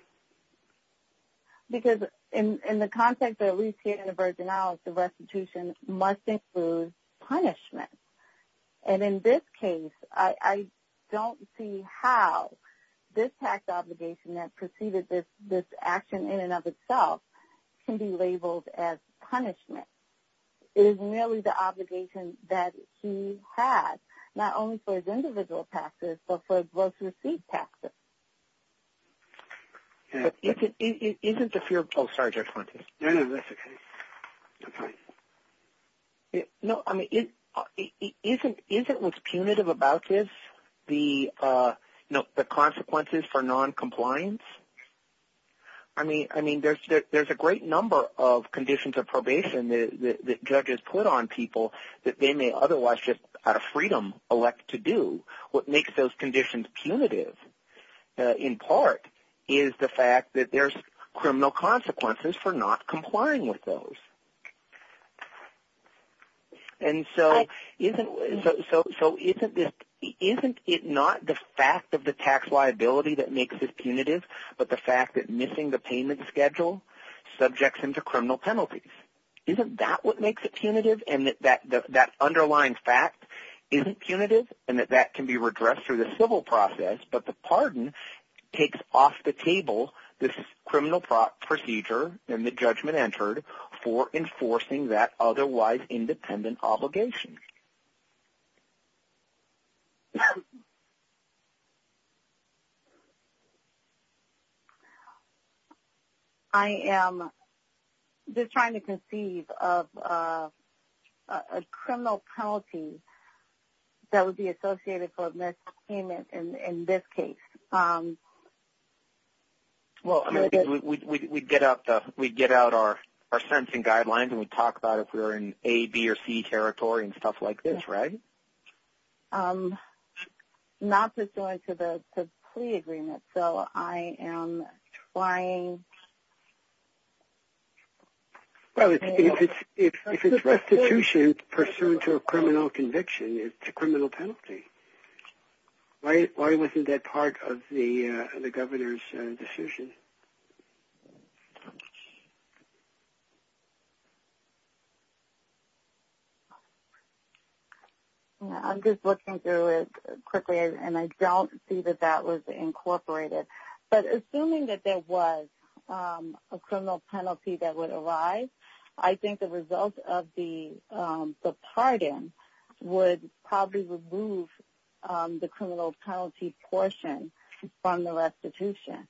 Because in the context of at least here in the Virgin Isles, the restitution must include punishment. And in this case, I don't see how this tax obligation that preceded this action in and of itself can be labeled as punishment. It is merely the obligation that he had, not only for his individual taxes, but for his gross receipt taxes. But isn't the fear of... Oh, sorry, Judge Fuentes. No, I mean, isn't what's punitive about this, the consequences for noncompliance? I mean, there's a great number of conditions of probation that judges put on people that they may otherwise just out of freedom elect to do. What makes those conditions punitive, in part, is the fact that there's criminal consequences for not complying with those. And so isn't it not the fact of the tax liability that makes it punitive, but the fact that missing the payment schedule subjects him to criminal penalties? Isn't that what makes it punitive and that underlying fact isn't punitive and that that can be redressed through the civil process, but the pardon takes off the table, this criminal procedure and the judgment entered for enforcing that otherwise independent obligation. I am just trying to conceive of a criminal penalty. That would be associated for a missed payment in this case. Well, I mean, we get out our sentencing guidelines and we talk about if we're in A, B or C territory and stuff like this, right? Not pursuant to the plea agreement. So I am trying... Well, if it's restitution, it's pursuant to a criminal conviction. It's a criminal penalty. Why wasn't that part of the governor's decision? I'm just looking through it quickly and I don't see that that was incorporated, but assuming that there was a criminal penalty that would arise, I think the result of the pardon would probably remove the criminal penalty portion from the restitution.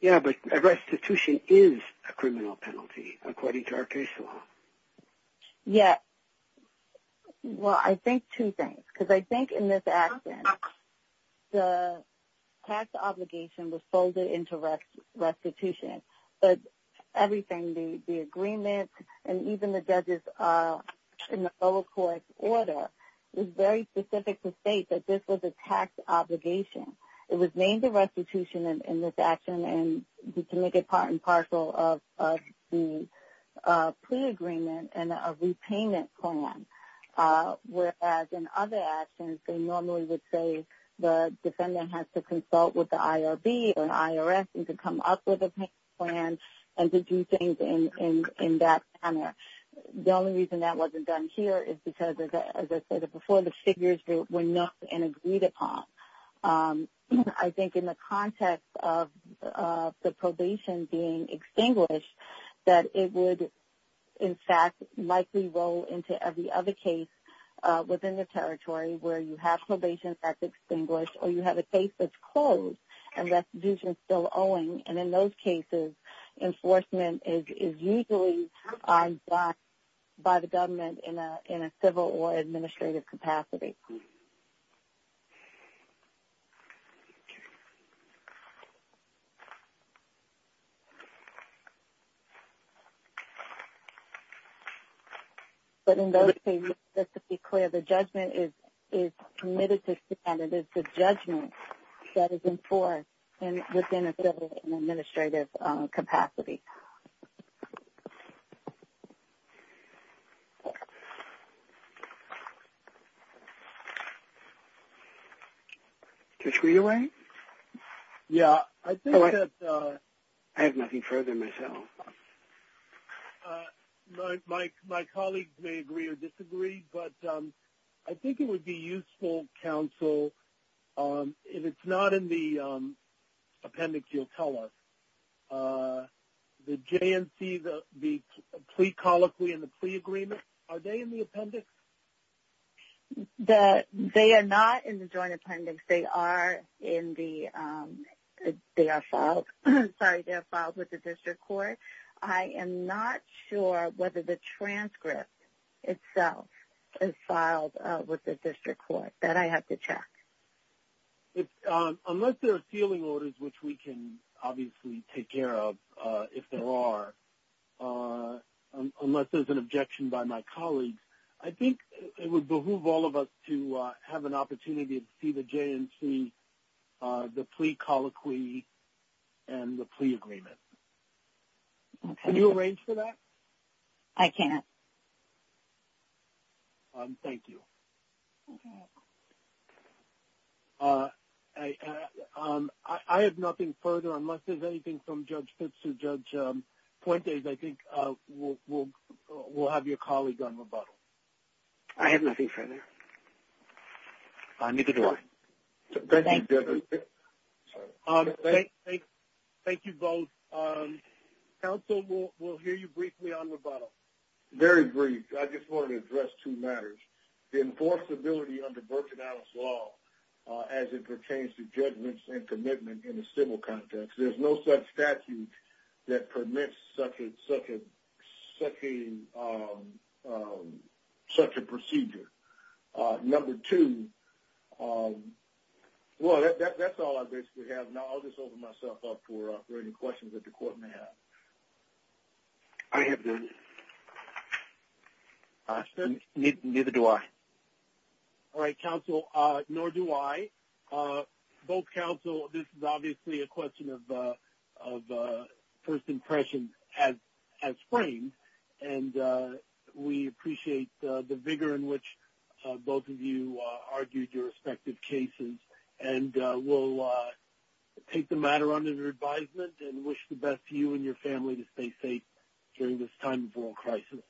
Yeah, but restitution is a criminal penalty according to our case law. Yeah. Well, I think two things, because I think in this action, the tax obligation was folded into restitution, but everything, the agreement, and even the judges in the full court order was very specific to state that this was a tax obligation. It was named the restitution in this action and we can make it part and partial of the plea agreement and a repayment form. Whereas in other actions, they normally would say the defendant has to consult with the IRB or the IRS and to come up with a plan and to do things in that manner. The only reason that wasn't done here is because, as I said before, the figures were not agreed upon. I think in the context of the probation being extinguished, that it would, in fact, likely roll into every other case within the territory where you have probation act extinguished, or you have a case that's closed and restitution is still owing. And in those cases, enforcement is usually by the government in a civil or administrative capacity. But in those cases, just to be clear, the judgment is committed to the defendant. It is the judgment that is enforced within a civil and administrative capacity. To screw you, Wayne? Yeah. I think that... I have nothing further myself. My colleagues may agree or disagree, but I think it would be useful, counsel, if it's not in the appendix, you'll tell us. The JNC, the plea colloquy and the plea agreement, are they in the appendix? They are not in the joint appendix. They are in the... They are filed. They are filed with the district court. I am not sure whether the transcript itself is filed with the district court. That I have to check. Unless there are sealing orders, which we can obviously take care of, if there are, unless there's an objection by my colleagues, I think it would behoove all of us to have an opportunity to see the JNC, the plea colloquy, and the plea agreement. Okay. Can you arrange for that? I can't. Thank you. Okay. I have nothing further. Unless there's anything from Judge Fitz to Judge Puente, I think we'll have your colleagues on rebuttal. I have nothing further. I'll move it along. Thank you, Judge. Thank you both. Counsel, we'll hear you briefly on rebuttal. Very brief. I just want to address two matters. The enforceability of the Virgin Isles Law, as it pertains to judgment and commitment in a civil context, there's no such statute that permits such a procedure. Number two, well, that's all I basically have. Now I'll just open myself up for any questions that the Court may have. I have none. Neither do I. All right, Counsel, nor do I. Both Counsel, this is obviously a question of first impressions as framed, and we appreciate the vigor in which both of you argued your respective cases. And we'll take the matter under your advisement and wish the best to you and your family to stay safe during this time of world crisis.